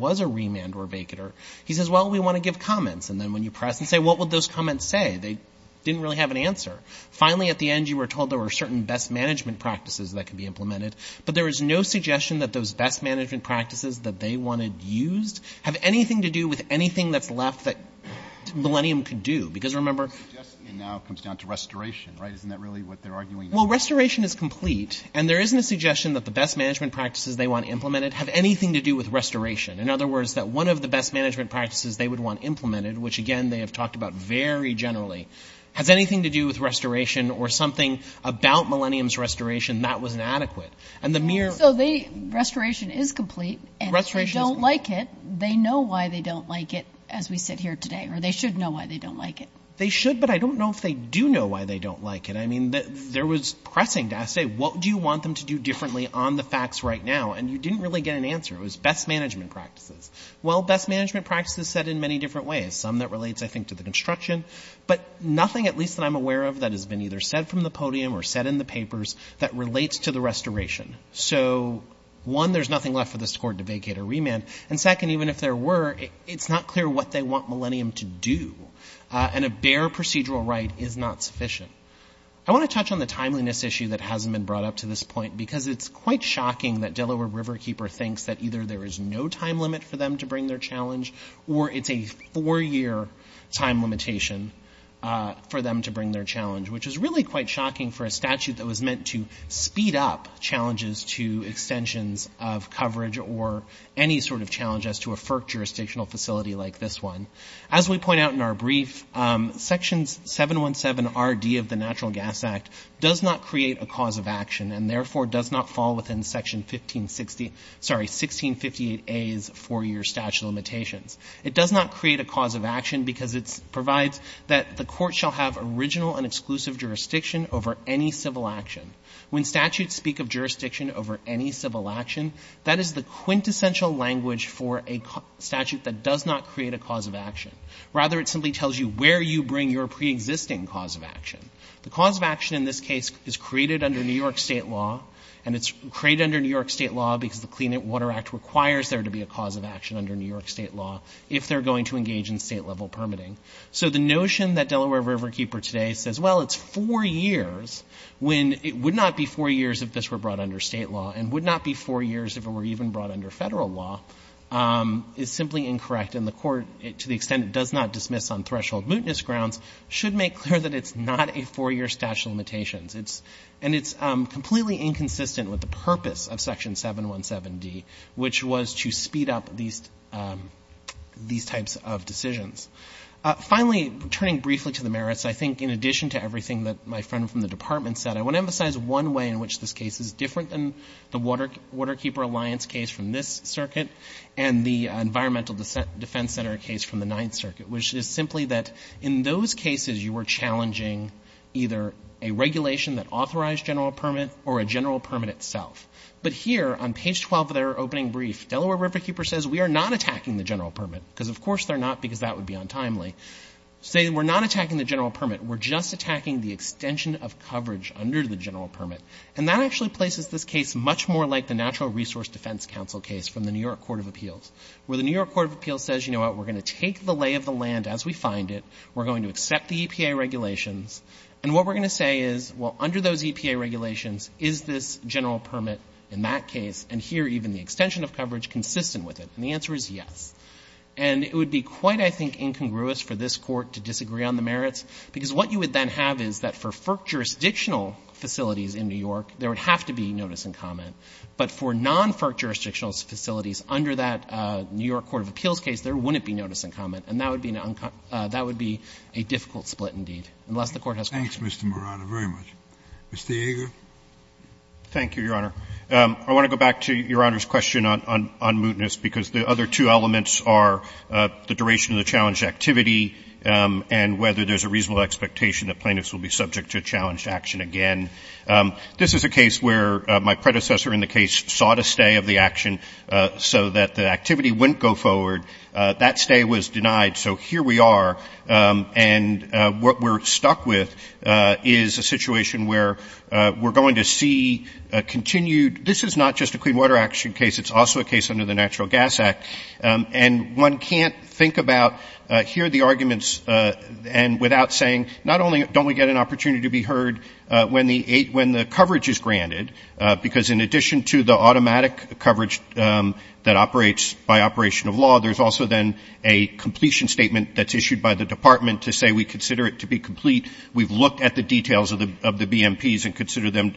was a remand or vacater. He says, well, we want to give comments. And then when you press and say, what would those comments say? They didn't really have an answer. Finally, at the end, you were told there were certain best management practices that could be implemented. But there is no suggestion that those best management practices that they wanted used have anything to do with anything that's left that Millennium could do. Because remember, it now comes down to restoration, right? Isn't that really what they're arguing? Well, restoration is complete. And there isn't a suggestion that the best management practices they want implemented have anything to do with restoration. In other words, that one of the best management practices they would want implemented, which again, they have talked about very generally, has anything to do with restoration or something about Millennium's restoration that was inadequate. And the mere... So restoration is complete. And if they don't like it, they know why they don't like it, as we said here today. Or they should know why they don't like it. They should, but I don't know if they do know why they don't like it. I mean, there was pressing. I said, what do you want them to do differently on the facts right now? And you didn't really get an answer. It was best management practices. Well, best management practices said in many different ways, some that relates, I think, to the construction, but nothing at least that I'm aware of that has been either said from the podium or said in the papers that relates to the restoration. So one, there's nothing left for the score to vacate or remand. And second, even if there were, it's not clear what they want Millennium to do. And a bare procedural right is not sufficient. I want to touch on the timeliness issue that hasn't been brought up to this point, because it's quite shocking that Delaware Riverkeeper thinks that either there is no time limit for them to bring their challenge, or it's a four-year time limitation for them to bring their challenge, which is really quite shocking for a statute that was meant to speed up challenges to extensions of coverage or any sort of challenge as to a FERC jurisdictional facility like this one. As we point out in our brief, Section 717RD of the Natural Gas Act does not create a cause of action and therefore does not fall within Section 1658A's four-year statute of limitations. It does not create a cause of action because it provides that the court shall have original and exclusive jurisdiction over any civil action. When statutes speak of jurisdiction over any civil action, that is the quintessential language for a statute that does not create a cause of action. Rather, it simply tells you where you bring your preexisting cause of action. The cause of action in this case is created under New York state law, and it's created under New York state law because the Clean Water Act requires there to be a cause of action under New York state law if they're going to engage in state-level permitting. So the notion that Delaware Riverkeeper today says, well, it's four years, when it would not be four years if this were brought under state law, and would not be four years if it were even brought under federal law, is simply incorrect, and the court, to the extent it does not dismiss on threshold mootness grounds, should make clear that it's not a four-year statute of limitations, and it's completely inconsistent with the purpose of Section 717D, which was to speed up these types of decisions. Finally, returning briefly to the merits, I think in addition to everything that my friend from the Department said, I want to emphasize one way in which this case is different than the Waterkeeper Alliance case from this circuit and the Environmental Defense Center case from the Ninth Circuit, which is simply that in those cases you were challenging either a regulation that authorized general permit or a general permit itself. But here, on page 12 of their opening brief, Delaware Riverkeeper says, we are not attacking the general permit, because of course they're not, because that would be untimely. They say, we're not attacking the general permit, we're just attacking the extension of coverage under the general permit. And that actually places this case much more like the Natural Resource Defense Council case from the New York Court of Appeals, where the New York Court of Appeals says, you know what, we're going to take the lay of the land as we find it. We're going to accept the EPA regulations. And what we're going to say is, well, under those EPA regulations, is this general permit in that case, and here even the extension of coverage, consistent with it? And the answer is yes. And it would be quite, I think, incongruous for this Court to disagree on the merits, because what you would then have is that for FERC jurisdictional facilities in New York, there would have to be notice and comment. But for non-FERC jurisdictional facilities under that New York Court of Appeals case, there wouldn't be notice and comment. And that would be a difficult split indeed, unless the Court has to agree. Thanks, Mr. Morano, very much. Mr. Yeager? Thank you, Your Honor. I want to go back to Your Honor's question on mootness, because the other two elements are the duration of the challenge activity and whether there's a reasonable expectation that plaintiffs will be subject to challenge action again. This is a case where my predecessor in the case sought a stay of the action so that the that stay was denied. So here we are. And what we're stuck with is a situation where we're going to see a continued—this is not just a Clean Water Action case. It's also a case under the Natural Gas Act. And one can't think about—hear the arguments without saying, not only don't we get an opportunity to be heard when the coverage is granted, because in addition to the automatic coverage that operates by operational law, there's also then a completion statement that's issued by the Department to say we consider it to be complete. We've looked at the details of the BMPs and consider them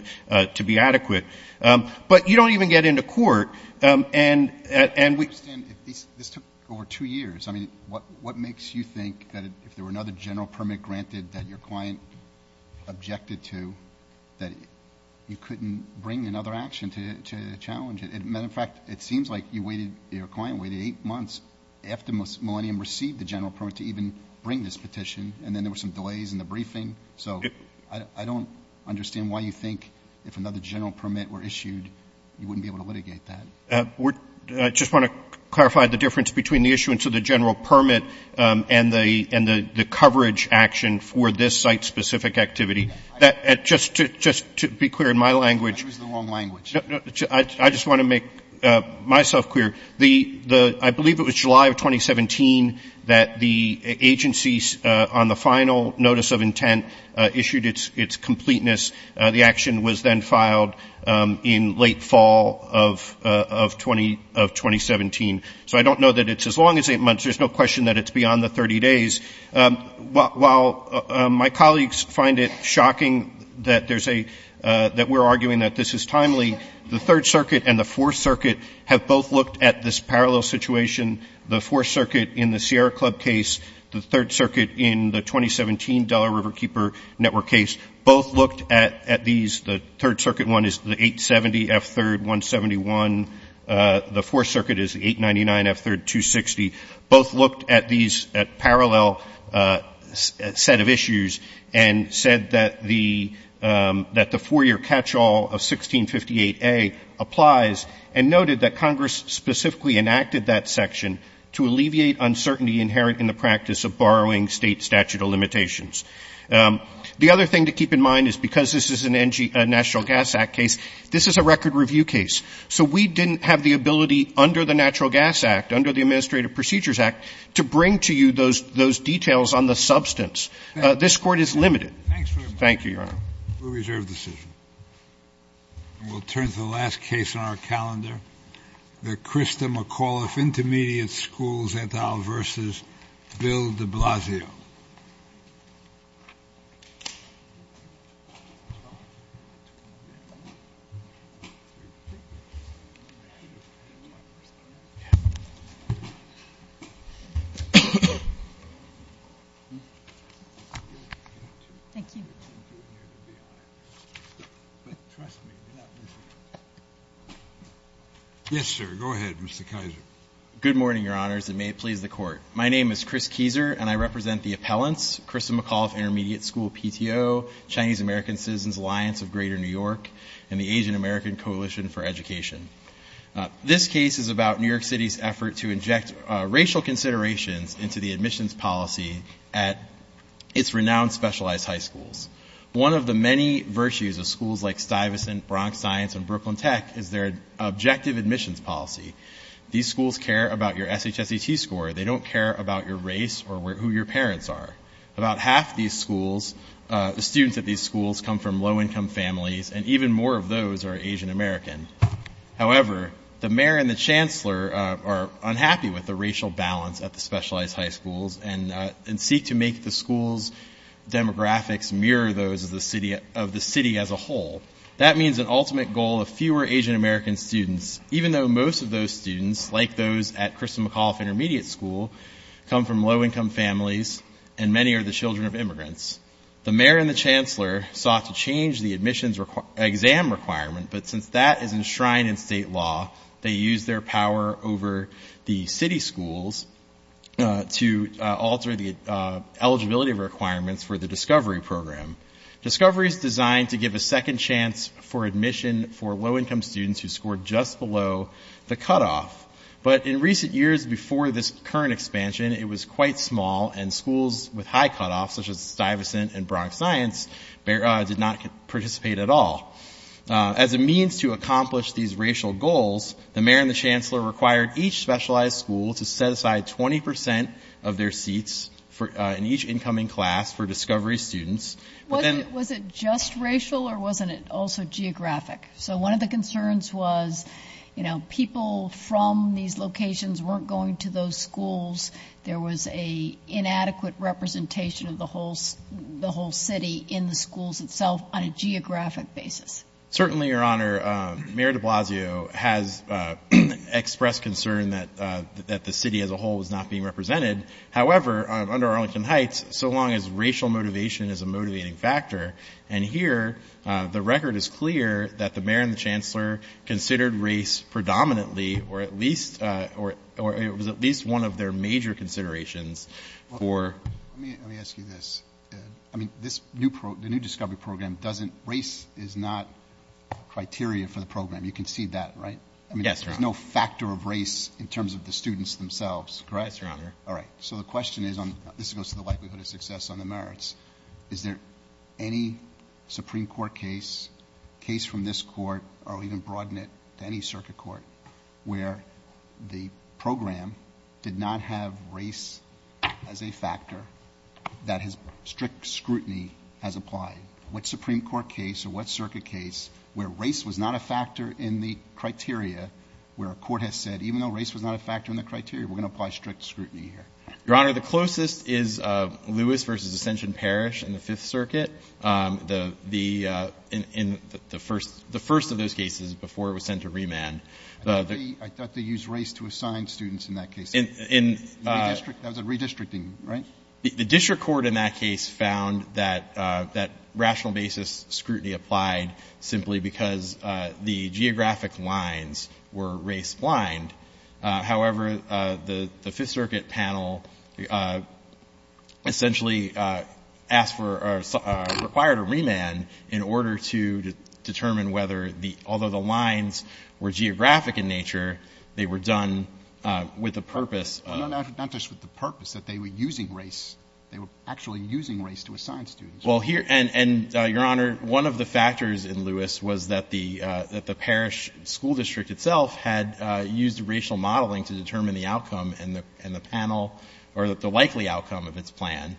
to be adequate. But you don't even get into court, and we— And this took over two years. I mean, what makes you think that if there were another general permit granted that your It seems like your client waited eight months after Millennium received the general permit to even bring this petition, and then there were some delays in the briefing. So I don't understand why you think if another general permit were issued, you wouldn't be able to litigate that. I just want to clarify the difference between the issuance of the general permit and the coverage action for this site-specific activity. Just to be clear, in my language— You're using the wrong language. I just want to make myself clear. I believe it was July of 2017 that the agencies, on the final notice of intent, issued its completeness. The action was then filed in late fall of 2017. So I don't know that it's as long as eight months. There's no question that it's beyond the 30 days. While my colleagues find it shocking that we're arguing that this is timely, the Third Circuit and the Fourth Circuit have both looked at this parallel situation. The Fourth Circuit in the Sierra Club case, the Third Circuit in the 2017 Delaware River Keeper Network case both looked at these. The Third Circuit one is the 870 F-3rd 171. The Fourth Circuit is 899 F-3rd 260. Both looked at these parallel set of issues and said that the four-year catch-all of 1658A applies and noted that Congress specifically enacted that section to alleviate uncertainty inherent in the practice of borrowing state statute of limitations. The other thing to keep in mind is because this is a National Gas Act case, this is a record review case. So we didn't have the ability under the Natural Gas Act, under the Administrative Procedures Act, to bring to you those details on the substance. This court is limited. Thank you, Your Honor. We reserve decision. We'll turn to the last case on our calendar, the Christa McAuliffe Intermediate Schools et al. versus Bill de Blasio. Yes, sir. Go ahead, Mr. Kizer. Good morning, Your Honors, and may it please the Court. My name is Chris Kizer, and I represent the appellants, Christa McAuliffe Intermediate School PTO, Chinese American Citizens Alliance of Greater New York, and the Asian American Coalition for Education. This case is about New York City's effort to inject racial consideration into the admissions policy at its renowned specialized high schools. One of the many virtues of schools like Stuyvesant, Bronx Science, and Brooklyn Tech is their objective admissions policy. These schools care about your SHSET score. They don't care about your race or who your parents are. About half of these schools, the students at these schools, come from low-income families, and even more of those are Asian Americans. However, the mayor and the chancellor are unhappy with the racial balance at the specialized high schools and seek to make the schools' demographics mirror those of the city as a whole. That means an ultimate goal of fewer Asian American students, even though most of those students, like those at Christa McAuliffe Intermediate School, come from low-income families, and many are the children of immigrants. The mayor and the chancellor sought to change the admissions exam requirement, but since that is enshrined in state law, they used their power over the city schools to alter the eligibility requirements for the Discovery Program. Discovery is designed to give a second chance for admission for low-income students who scored just below the cutoff. But in recent years before this current expansion, it was quite small, and schools with high cutoffs, such as Stuyvesant and Bronx Science, did not participate at all. As a means to accomplish these racial goals, the mayor and the chancellor required each specialized school to set aside 20 percent of their seats in each incoming class for Discovery students. Was it just racial, or wasn't it also geographic? So one of the concerns was, you know, people from these locations weren't going to those schools. There was an inadequate representation of the whole city in the schools itself on a Certainly, Your Honor, Mayor de Blasio has expressed concern that the city as a whole was not being represented. However, under Arlington Heights, so long as racial motivation is a motivating factor, and here the record is clear that the mayor and the chancellor considered race predominantly, or at least one of their major considerations for Let me ask you this. I mean, this new program, the new Discovery program doesn't, race is not criteria for the program. You can see that, right? I mean, there's no factor of race in terms of the students themselves, correct? That's right, Your Honor. All right. So the question is, this goes to the likelihood of success on the merits, is there any Supreme Court case, case from this court, or even broad knit to any circuit court, where the scrutiny has applied? What Supreme Court case or what circuit case where race was not a factor in the criteria where a court has said, even though race was not a factor in the criteria, we're going to apply strict scrutiny here? Your Honor, the closest is Lewis versus Ascension Parish in the Fifth Circuit. The first of those cases before it was sent to remand. I thought they used race to assign students in that case. As a redistricting, right? The district court in that case found that rational basis scrutiny applied simply because the geographic lines were race blind. However, the Fifth Circuit panel essentially asked for, required a remand in order to determine whether the, although the lines were geographic in nature, they were done with the purpose. Not just with the purpose, that they were using race. They were actually using race to assign students. Well here, and Your Honor, one of the factors in Lewis was that the parish school district itself had used racial modeling to determine the outcome and the panel, or the likely outcome of its plan.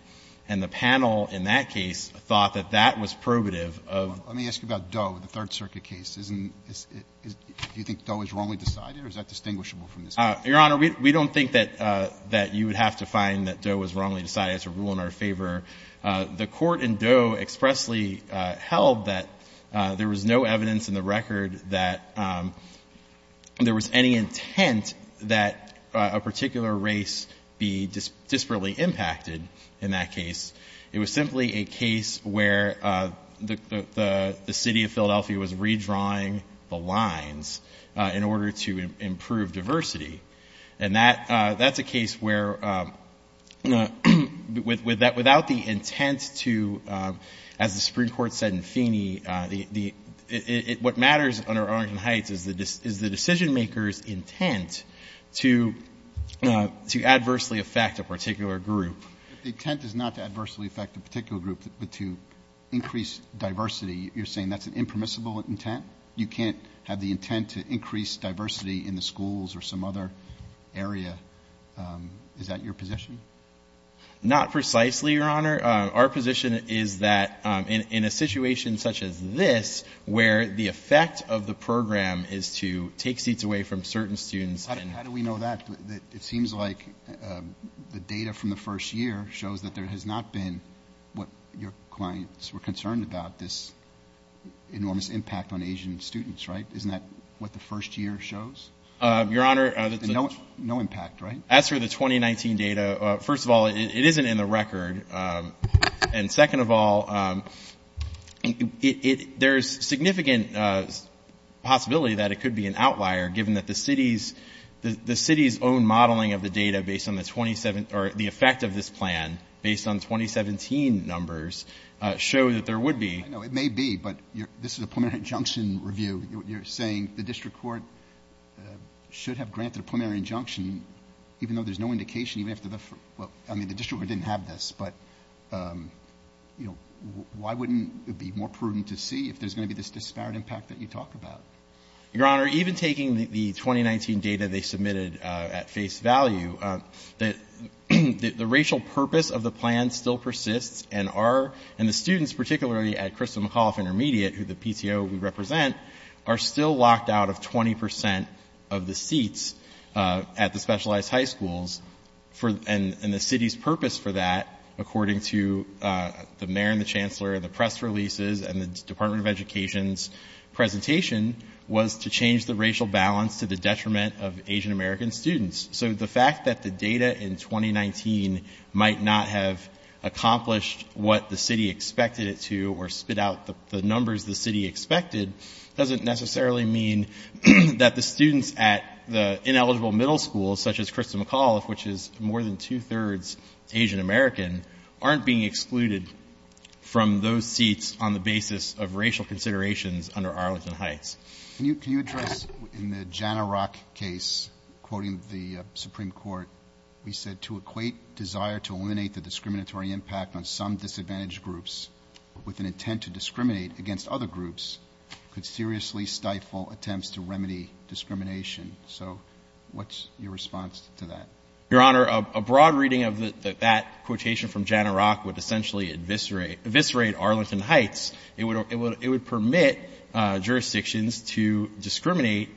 And the panel in that case thought that that was probative of. Let me ask you about Doe, the Third Circuit case. Do you think Doe is wrongly decided, or is that distinguishable from this case? Your Honor, we don't think that you would have to find that Doe was wrongly decided to rule in our favor. The court in Doe expressly held that there was no evidence in the record that there was any intent that a particular race be disparately impacted in that case. It was simply a case where the city of Philadelphia was redrawing the lines in order to improve diversity. And that's a case where without the intent to, as the Supreme Court said in Feeney, what matters under Arlington Heights is the decision maker's intent to adversely affect a particular group. The intent is not to adversely affect a particular group, but to increase diversity. You're saying that's an impermissible intent? You can't have the intent to increase diversity in the schools or some other area. Is that your position? Not precisely, Your Honor. Our position is that in a situation such as this, where the effect of the program is to take seats away from certain students. How do we know that? It seems like the data from the first year shows that there has not been what your clients were concerned about, this enormous impact on Asian students. Right? Isn't that what the first year shows? Your Honor. No impact, right? As for the 2019 data, first of all, it isn't in the record. And second of all, there's significant possibility that it could be an outlier, given that the city's own modeling of the data based on the effect of this plan, based on 2017 numbers, shows that there would be. It may be, but this is a preliminary injunction review. You're saying the district court should have granted a preliminary injunction, even though there's no indication you have to differ. Well, I mean, the district didn't have this, but why wouldn't it be more prudent to see if there's going to be this disparate impact that you talk about? Your Honor, even taking the 2019 data they submitted at face value, the racial purpose of the plan still persists, and the students, particularly at Crystal McAuliffe Intermediate, who the PTO we represent, are still locked out of 20% of the seats at the specialized high schools. And the city's purpose for that, according to the mayor and the chancellor and the press releases and the Department of Education's presentation, was to change the racial balance to the detriment of Asian American students. So the fact that the data in 2019 might not have accomplished what the city expected it to, or spit out the numbers the city expected, doesn't necessarily mean that the students at the ineligible middle schools, such as Crystal McAuliffe, which is more than two-thirds Asian American, aren't being excluded from those seats on the basis of racial considerations under Arlington Heights. Can you address, in the Jana Rock case, quoting the Supreme Court, he said, to equate desire to eliminate the discriminatory impact on some disadvantaged groups with an intent to discriminate against other groups could seriously stifle attempts to remedy discrimination. So what's your response to that? Your Honor, a broad reading of that quotation from Jana Rock would essentially eviscerate Arlington Heights. It would permit jurisdictions to discriminate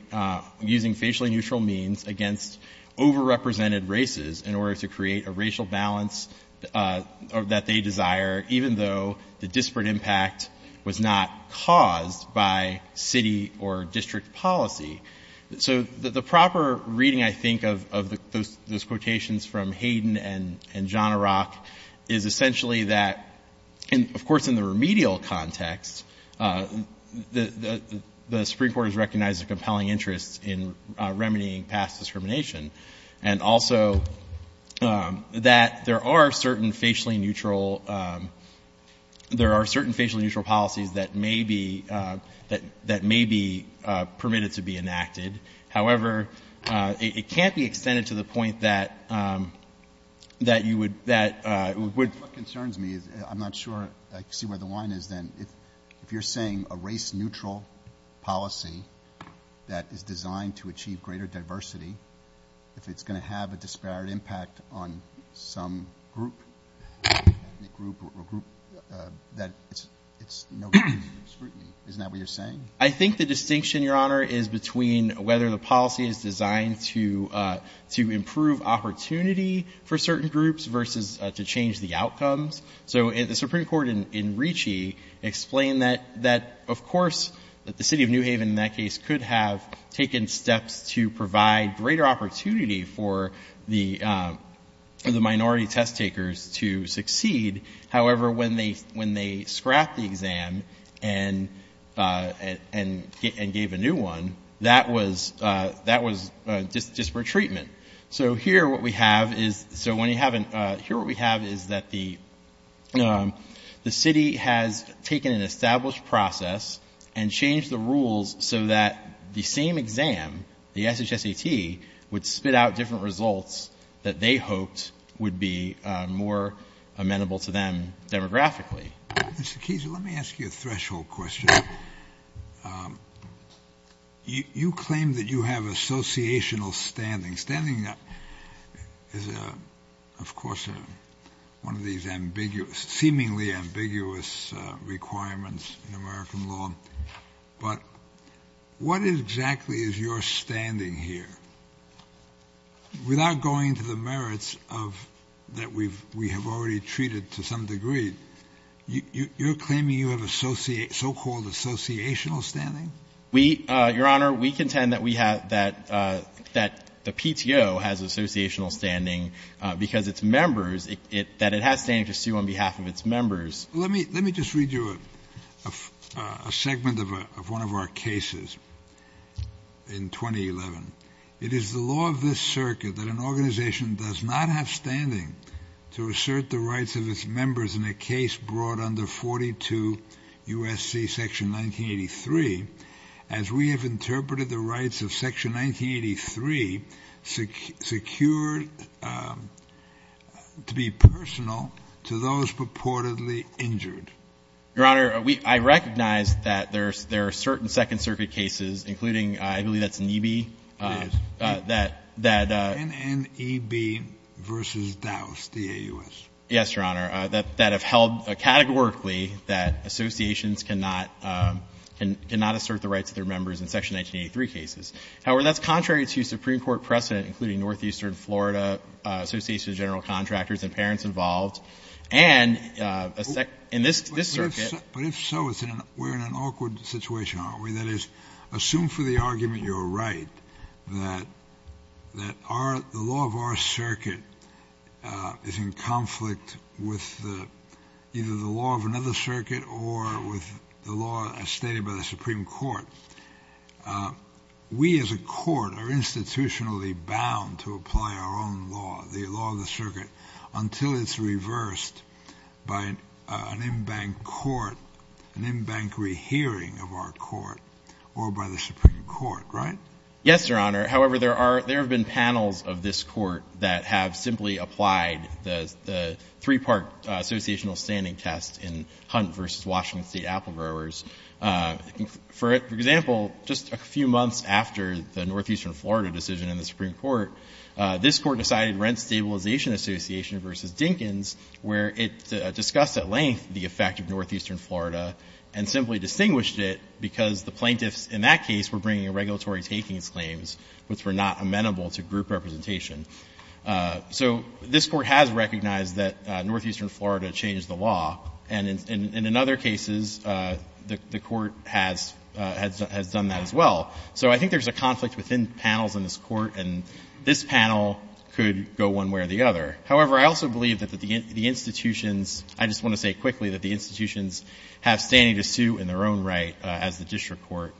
using facially neutral means against overrepresented races in order to create a racial balance that they desire, even though the disparate impact was not caused by city or district policy. So the proper reading, I think, of those quotations from Hayden and Jana Rock is essentially that, of course, in the remedial context, the Supreme Court has recognized a compelling interest in remedying past discrimination, and also that there are certain facially neutral policies that may be permitted to be enacted. However, it can't be extended to the point that you would... What concerns me, I'm not sure I see where the line is then, if you're saying a race neutral policy that is designed to achieve greater diversity, if it's going to have a disparate impact on some group, ethnic group or group that is not discriminating, isn't that what you're saying? I think the distinction, Your Honor, is between whether the policy is designed to improve opportunity for certain groups versus to change the outcome. So the Supreme Court in Ricci explained that, of course, the city of New Haven in that case could have taken steps to provide greater opportunity for the minority test takers to and gave a new one, that was disparate treatment. So here what we have is that the city has taken an established process and changed the rules so that the same exam, the SHSET, would spit out different results that they hoped would be more amenable to them demographically. Mr. Keyes, let me ask you a threshold question. You claim that you have associational standing. Standing is, of course, one of these ambiguous, seemingly ambiguous requirements in American law, but what exactly is your standing here? Without going to the merits that we have already treated to some degree, you're claiming you have so-called associational standing? Your Honor, we contend that the PTO has associational standing because its members, that it has standing to sue on behalf of its members. Let me just read you a segment of one of our cases in 2011. It is the law of this circuit that an organization does not have standing to assert the rights of its members in a case brought under 42 U.S.C. section 1983 as we have interpreted the rights of section 1983 secured to be personal to those purportedly injured. Your Honor, I recognize that there are certain Second Circuit cases, including, I believe that's NEB. Yes. NNEB versus DAUS, D-A-U-S. Yes, Your Honor, that have held categorically that associations cannot assert the rights of their members in section 1983 cases. However, that's contrary to Supreme Court precedent, including Northeastern Florida Association of General Contractors and parents involved, and in this circuit. But if so, we're in an awkward situation, aren't we? That is, assume for the argument you're right that the law of our circuit is in conflict with either the law of another circuit or with the law as stated by the Supreme Court. We as a court are institutionally bound to apply our own law, the law of the circuit, until it's reversed by an in-bank court, an in-bank rehearing of our court or by the Supreme Court, right? Yes, Your Honor. However, there have been panels of this court that have simply applied the three-part associational standing test in Hunt versus Washington State apple growers. For example, just a few months after the Northeastern Florida decision in the Supreme Court, this court decided Rent Stabilization Association versus Dinkins, where it discussed at length the effect of Northeastern Florida and simply distinguished it because the were not amenable to group representation. So this court has recognized that Northeastern Florida changed the law, and in other cases, the court has done that as well. So I think there's a conflict within panels in this court, and this panel could go one way or the other. However, I also believe that the institutions, I just want to say quickly that the institutions have standing to sue in their own right, as the district court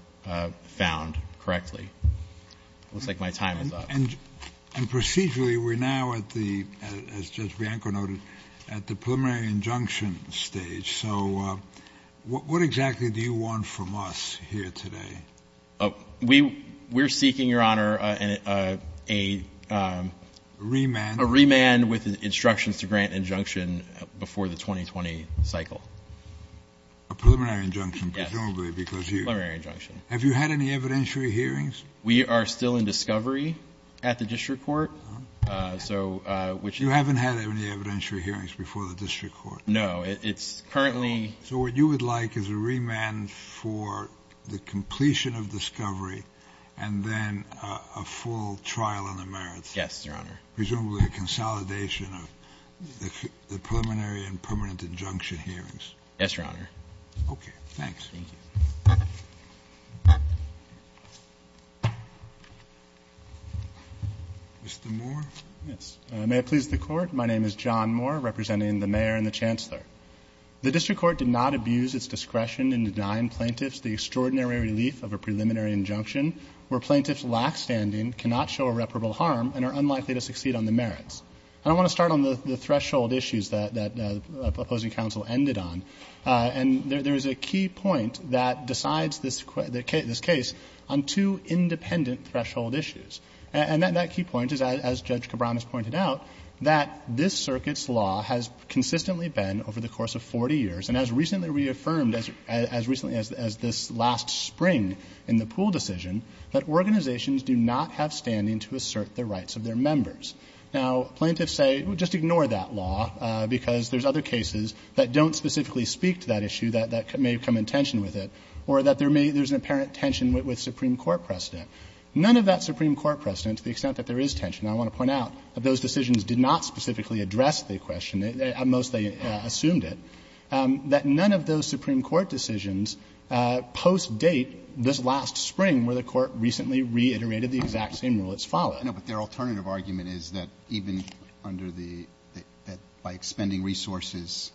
found correctly. And procedurally, we're now at the, as Judge Bianco noted, at the preliminary injunction stage. So what exactly do you want from us here today? We're seeking, Your Honor, a remand with instructions to grant injunction before the 2020 cycle. A preliminary injunction, presumably because you... Preliminary injunction. Have you had any evidentiary hearings? We are still in discovery at the district court, so which... You haven't had any evidentiary hearings before the district court? No, it's currently... So what you would like is a remand for the completion of discovery and then a full trial on the merits. Yes, Your Honor. Presumably a consolidation of the preliminary and permanent injunction hearings. Yes, Your Honor. Okay, thanks. Mr. Moore? Yes, and may it please the court, my name is John Moore, representing the mayor and the chancellor. The district court did not abuse its discretion in denying plaintiffs the extraordinary relief of a preliminary injunction, where plaintiffs lack standing, cannot show irreparable harm, and are unlikely to succeed on the merits. I want to start on the threshold issues that the opposing counsel ended on. And there's a key point that decides this case on two independent threshold issues. And that key point is, as Judge Cabran has pointed out, that this circuit's law has consistently been, over the course of 40 years, and as recently reaffirmed as this last spring in the pool decision, that organizations do not have standing to assert the rights of their members. Now, plaintiffs say, well, just ignore that law because there's other cases that don't specifically speak to that issue that may come in tension with it. Or that there's an apparent tension with Supreme Court precedent. None of that Supreme Court precedent, to the extent that there is tension, I want to point out that those decisions did not specifically address the question. At most, they assumed it. That none of those Supreme Court decisions post-date this last spring, where the court recently reiterated the exact same rule that's followed. No, but their alternative argument is that even under the, by expending resources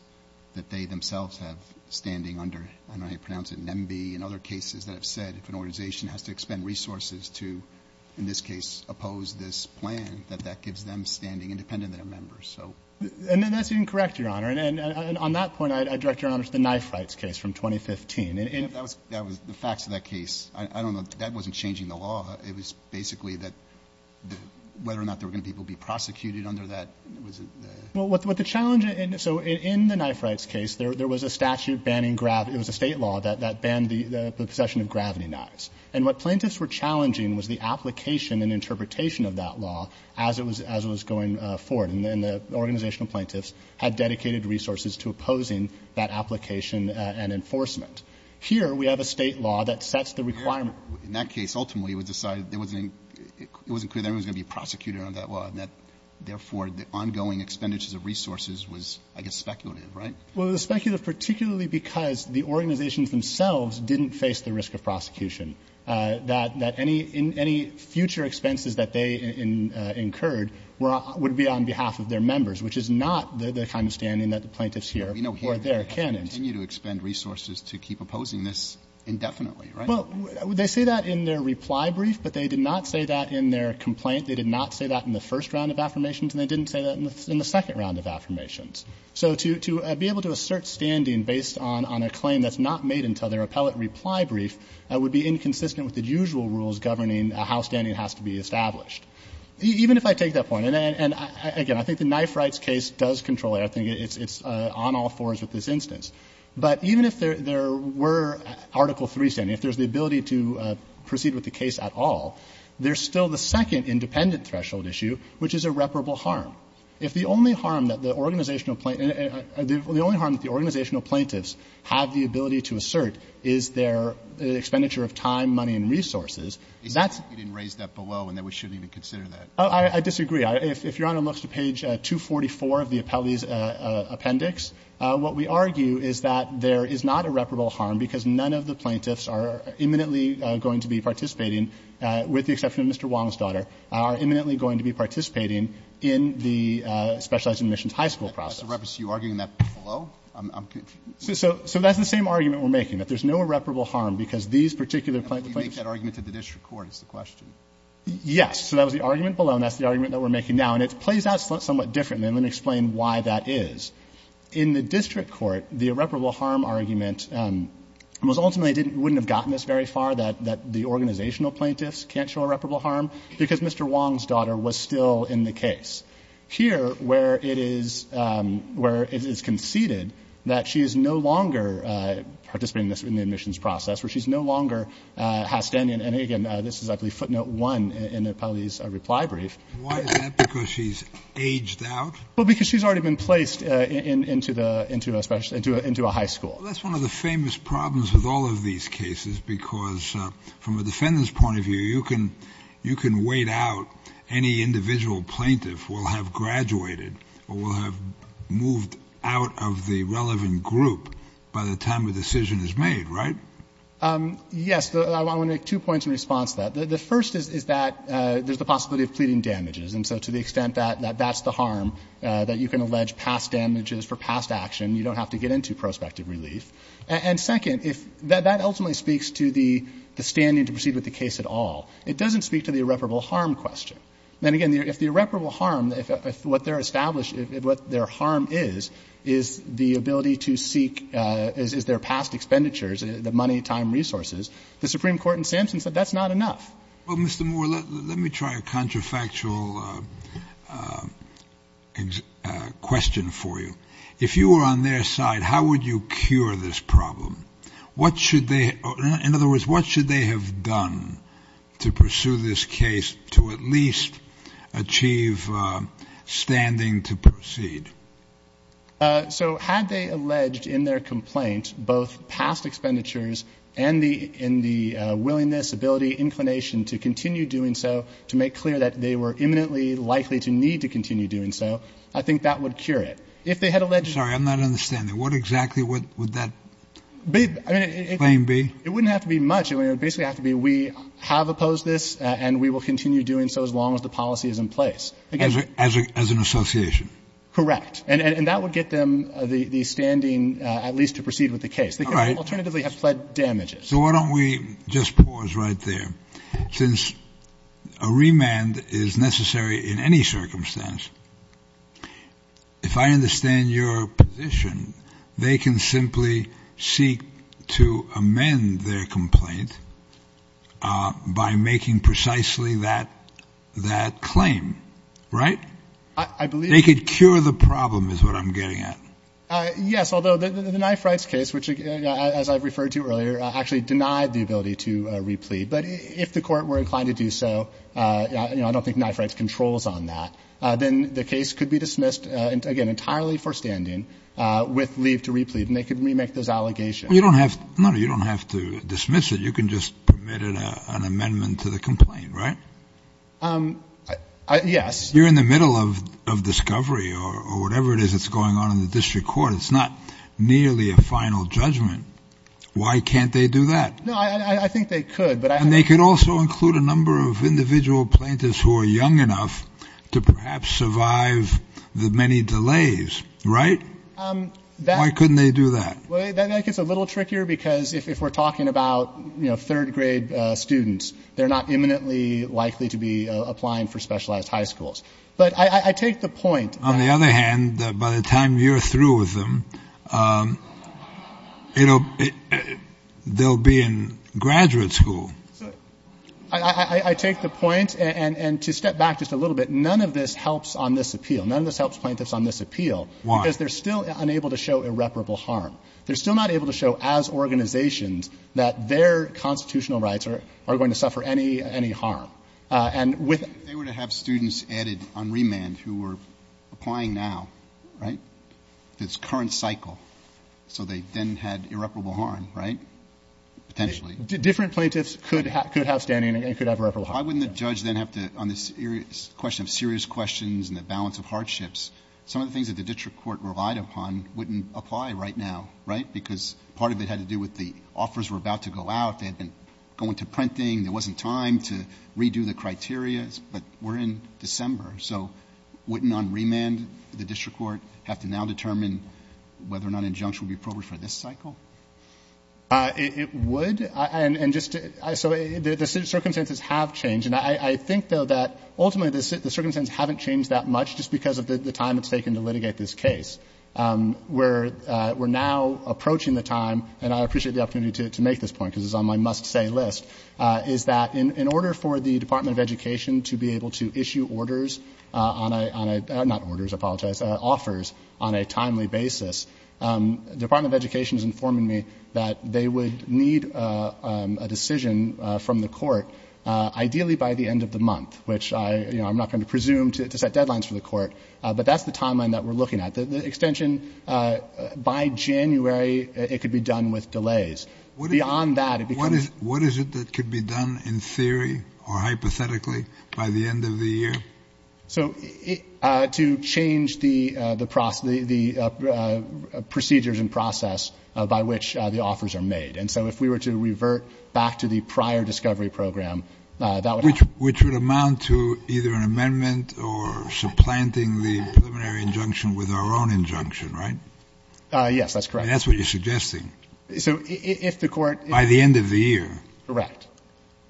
that they themselves have standing under, I don't know how you pronounce it, NEMBE, and other cases that have said if an organization has to expend resources to, in this case, oppose this plan, that that gives them standing independent of their members. So. And that's incorrect, Your Honor. And on that point, I direct Your Honor to the knife fights case from 2015. That was the facts of that case. I don't know. That wasn't changing the law. It was basically that whether or not there were going to people be prosecuted under that. Well, what the challenge, so in the knife fights case, there was a statute banning, it was a state law that banned the possession of gravity knives. And what plaintiffs were challenging was the application and interpretation of that law as it was going forward. And the organizational plaintiffs had dedicated resources to opposing that application and enforcement. Here, we have a state law that sets the requirement. In that case, ultimately, it was decided it wasn't clear that everyone was going to be prosecuted under that law. And that, therefore, the ongoing expenditures of resources was, I guess, speculative, right? Well, it was speculative, particularly because the organization themselves didn't face the risk of prosecution, that any future expenses that they incurred would be on behalf of their members, which is not the kind of standing that the plaintiffs here or there can extend. We know they continue to expend resources to keep opposing this indefinitely, right? Well, they say that in their reply brief, but they did not say that in their complaint. They did not say that in the first round of affirmations. And they didn't say that in the second round of affirmations. So to be able to assert standing based on a claim that's not made until their appellate reply brief would be inconsistent with the usual rules governing how standing has to be established. Even if I take that point, and again, I think the knife rights case does control it. I think it's on all fours with this instance. But even if there were Article III standing, if there's the ability to proceed with the case at all, there's still the second independent threshold issue, which is irreparable harm. If the only harm that the organizational plaintiffs have the ability to assert is their expenditure of time, money, and resources, that's... You didn't raise that below, and then we shouldn't even consider that. I disagree. If you're on a look to page 244 of the appellee's appendix, what we argue is that there is not irreparable harm because none of the plaintiffs are imminently going to be participating, with the exception of Mr. Wong's daughter, are imminently going to be participating in the Specialized Admissions High School project. So you're arguing that below? So that's the same argument we're making, that there's no irreparable harm because these particular plaintiffs... You make that argument that the district court is the question. Yes. So that was the argument below, and that's the argument that we're making now. And it plays out somewhat differently, and let me explain why that is. In the district court, the irreparable harm argument was ultimately... Wouldn't have gotten this very far, that the organizational plaintiffs can't show irreparable harm, because Mr. Wong's daughter was still in the case. Here, where it is conceded that she is no longer participating in the admissions process, where she's no longer have standing... This is, I believe, footnote one in Apollo's reply brief. Why is that? Because she's aged out? Well, because she's already been placed into a high school. That's one of the famous problems with all of these cases, because from a defendant's point of view, you can wait out any individual plaintiff will have graduated, or will have moved out of the relevant group by the time a decision is made, right? Yes, I want to make two points in response to that. The first is that there's the possibility of pleading damages. And so to the extent that that's the harm, that you can allege past damages for past action, you don't have to get into prospective relief. And second, that ultimately speaks to the standing to proceed with the case at all. It doesn't speak to the irreparable harm question. Then again, if the irreparable harm, what they're established, what their harm is, is the ability to seek, is their past expenditures, the money, time, resources. The Supreme Court in Sampson said that's not enough. Well, Mr. Moore, let me try a contrafactual question for you. If you were on their side, how would you cure this problem? What should they, in other words, what should they have done to pursue this case to at least achieve standing to proceed? So had they alleged in their complaint, both past expenditures and the willingness, ability, inclination to continue doing so, to make clear that they were imminently likely to need to continue doing so, I think that would cure it. If they had alleged... Sorry, I'm not understanding. What exactly would that claim be? It wouldn't have to be much. It would basically have to be, we have opposed this and we will continue doing so as long as the policy is in place. As an association. Correct. And that would get them the standing at least to proceed with the case. All right. Alternatively, they have fled damages. So why don't we just pause right there? Since a remand is necessary in any circumstance, if I understand your position, they can simply seek to amend their complaint by making precisely that claim, right? I believe... That's what I'm getting at. Yes. Although the knife rights case, which, as I referred to earlier, actually denied the ability to replead. But if the court were inclined to do so, I don't think knife rights controls on that. Then the case could be dismissed, again, entirely for standing with leave to replead. And they could remake those allegations. You don't have to dismiss it. You can just permit an amendment to the complaint, right? Yes. You're in the middle of discovery or whatever it is that's going on in the district court. It's not nearly a final judgment. Why can't they do that? No, I think they could. But they could also include a number of individual plaintiffs who are young enough to perhaps survive the many delays, right? Why couldn't they do that? Well, I think it's a little trickier because if we're talking about third grade students, they're not imminently likely to be applying for specialized high schools. But I take the point. On the other hand, by the time you're through with them, they'll be in graduate school. I take the point and to step back just a little bit. None of this helps on this appeal. None of this helps plaintiffs on this appeal. Why? Because they're still unable to show irreparable harm. They're still not able to show as organizations that their constitutional rights are going to any harm. And with... If they were to have students added on remand who were applying now, right, this current cycle, so they then had irreparable harm, right? Potentially. Different plaintiffs could have standing and could have irreparable harm. Why wouldn't the judge then have to, on this question of serious questions and the balance of hardships, some of the things that the district court relied upon wouldn't apply right now, right? Because part of it had to do with the offers were about to go out. They had been going to printing. It wasn't time to redo the criteria, but we're in December. So wouldn't on remand, the district court have to now determine whether or not an injunction would be appropriate for this cycle? It would. So the circumstances have changed. And I think though that ultimately the circumstances haven't changed that much just because of the time it's taken to litigate this case. We're now approaching the time, and I appreciate the opportunity to make this point because it's on my must say list. Is that in order for the Department of Education to be able to issue orders on a, not orders, I apologize, offers on a timely basis, the Department of Education is informing me that they would need a decision from the court, ideally by the end of the month, which I'm not going to presume to set deadlines for the court, but that's the timeline that we're looking at the extension by January. It could be done with delays beyond that. What is it that could be done in theory or hypothetically by the end of the year? So to change the procedures and process by which the offers are made. And so if we were to revert back to the prior discovery program, that would happen. Which would amount to either an amendment or supplanting the preliminary injunction with our own injunction, right? That's what you're suggesting. So if the court... By the end of the year. Correct.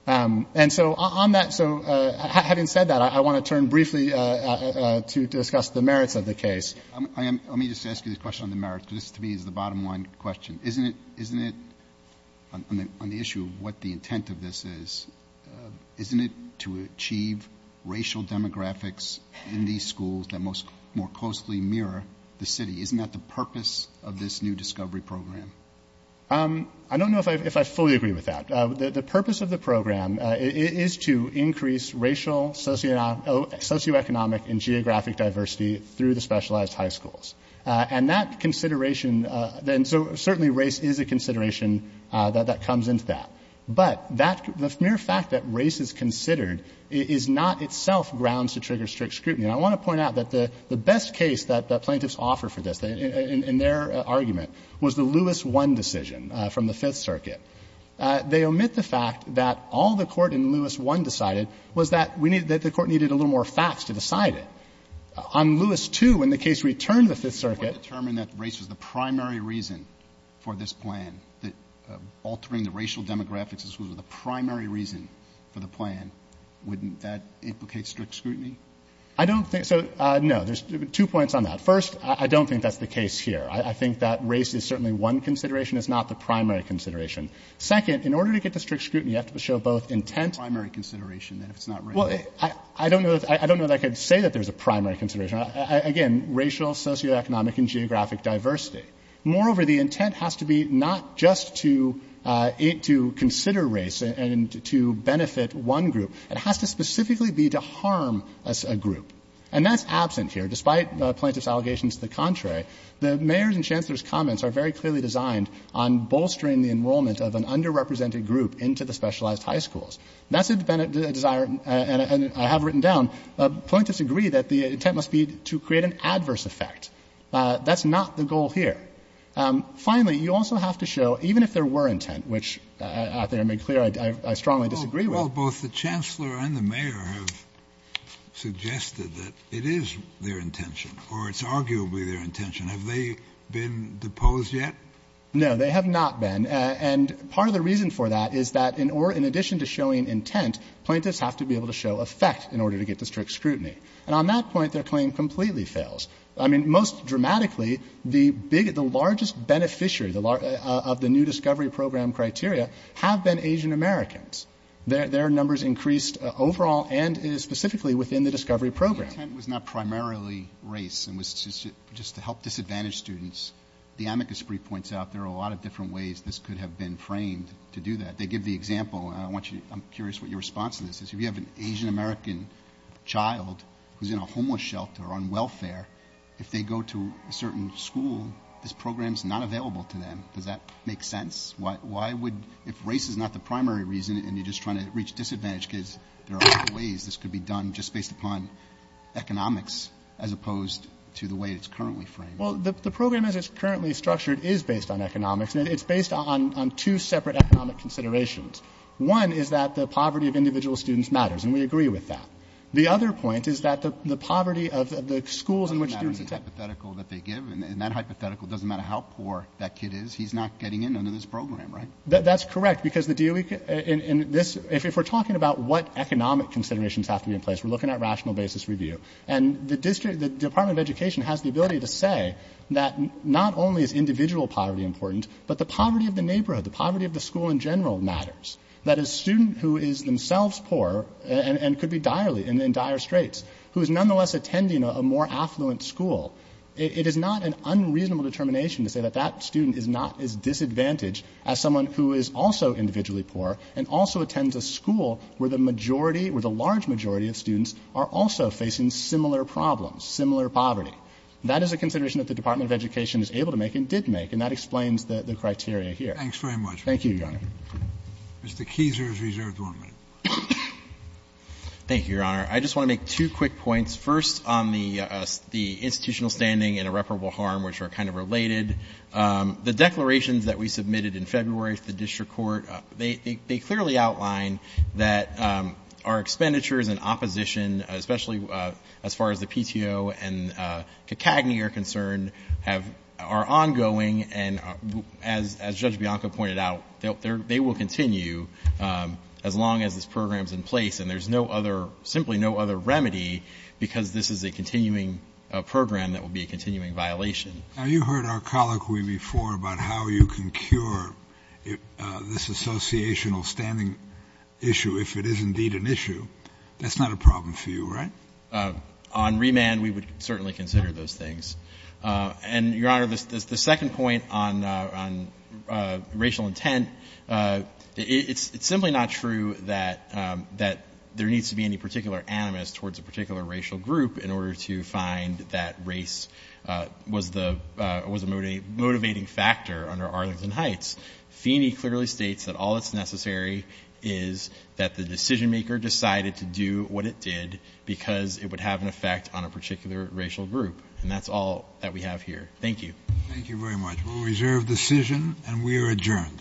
And so on that, so having said that, I want to turn briefly to discuss the merits of the case. I am, let me just ask you this question on the merits. This to me is the bottom line question. Isn't it, isn't it, on the issue of what the intent of this is, isn't it to achieve racial demographics in these schools that most, more closely mirror the city? Isn't that the purpose of this new discovery program? I don't know if I, if I fully agree with that. The purpose of the program is to increase racial socioeconomic and geographic diversity through the specialized high schools. And that consideration then, so certainly race is a consideration that comes into that. But that, the mere fact that race is considered is not itself grounds to trigger strict scrutiny. And I want to point out that the best case that the plaintiffs offer for this in their argument was the Lewis one decision from the fifth circuit. They omit the fact that all the court in Lewis one decided was that we need that the court needed a little more facts to decide it. On Lewis two, when the case returned the fifth circuit. Determine that race was the primary reason for this plan, that altering the racial demographics was the primary reason for the plan. Wouldn't that implicate strict scrutiny? I don't think so. No, there's two points on that. First, I don't think that's the case here. I think that race is certainly one consideration. It's not the primary consideration. Second, in order to get the strict scrutiny, you have to show both intent primary consideration that it's not, I don't know if I don't know that I could say that there's a primary consideration. Again, racial socioeconomic and geographic diversity. Moreover, the intent has to be not just to eat, to consider race and to benefit one group. It has to specifically be to harm a group. And that's absent here. Despite plaintiff's allegations to the contrary, the mayor's and chancellor's comments are very clearly designed on bolstering the enrollment of an underrepresented group into the specialized high schools. That's been a desire and I have written down plaintiffs agree that the intent must be to create an adverse effect. That's not the goal here. Finally, you also have to show even if there were intent, which I think I made clear, I strongly disagree. Both the chancellor and the mayor have suggested that it is their intention or it's arguably their intention. Have they been deposed yet? No, they have not been. And part of the reason for that is that in order, in addition to showing intent, plaintiffs have to be able to show effect in order to get the strict scrutiny. And on that point, their claim completely fails. I mean, most dramatically, the biggest, the largest beneficiary of the new discovery program criteria have been Asian Americans. Their numbers increased overall and is specifically within the discovery program. The intent was not primarily race and was just to help disadvantaged students. The amicus brief points out there are a lot of different ways this could have been framed to do that. They give the example and I want you, I'm curious what your response to this is. If you have an Asian American child who's in a homeless shelter on welfare, if they go to a certain school, this program is not available to them. Does that make sense? Why would, if race is not the primary reason and you're just trying to reach disadvantaged kids, there are other ways this could be done just based upon economics as opposed to the way it's currently framed. Well, the program as it's currently structured is based on economics and it's based on two separate economic considerations. One is that the poverty of individual students matters. And we agree with that. The other point is that the poverty of the schools in which they give and that hypothetical doesn't matter how poor that kid is, he's not getting into this program, right? That's correct because if we're talking about what economic considerations have to be in place, we're looking at rational basis review. And the Department of Education has the ability to say that not only is individual poverty important, but the poverty of the neighborhood, the poverty of the school in general matters. That a student who is themselves poor and could be direly in dire straits, who is nonetheless attending a more affluent school, it is not an unreasonable determination to say that that student is not as disadvantaged as someone who is also individually poor and also attends a school where the majority, where the large majority of students are also facing similar problems, similar poverty. That is a consideration that the Department of Education is able to make and did make and that explains the criteria here. Thanks very much. Thank you, Your Honor. Mr. Keezer is reserved one minute. Thank you, Your Honor. I just want to make two quick points. First, on the institutional standing and irreparable harm, which are kind of related. The declarations that we submitted in February to the district court, they clearly outline that our expenditures and opposition, especially as far as the PTO and CACAGNY are concerned, are ongoing and as Judge Bianco pointed out, they will continue as long as this program is in place and there is simply no other remedy because this is a continuing program that will be a continuing violation. Now, you heard our colloquy before about how you can cure this associational standing issue if it is indeed an issue. That is not a problem for you, right? On remand, we would certainly consider those things. And, Your Honor, the second point on racial intent, it is simply not true that there needs to be any particular animus towards a particular racial group in order to find that race was a motivating factor under Arlington Heights. Feeney clearly states that all that is necessary is that the decision maker decided to do what it did because it would have an effect on a particular racial group and that is all that we have here. Thank you. Thank you very much. We will reserve decision and we are adjourned.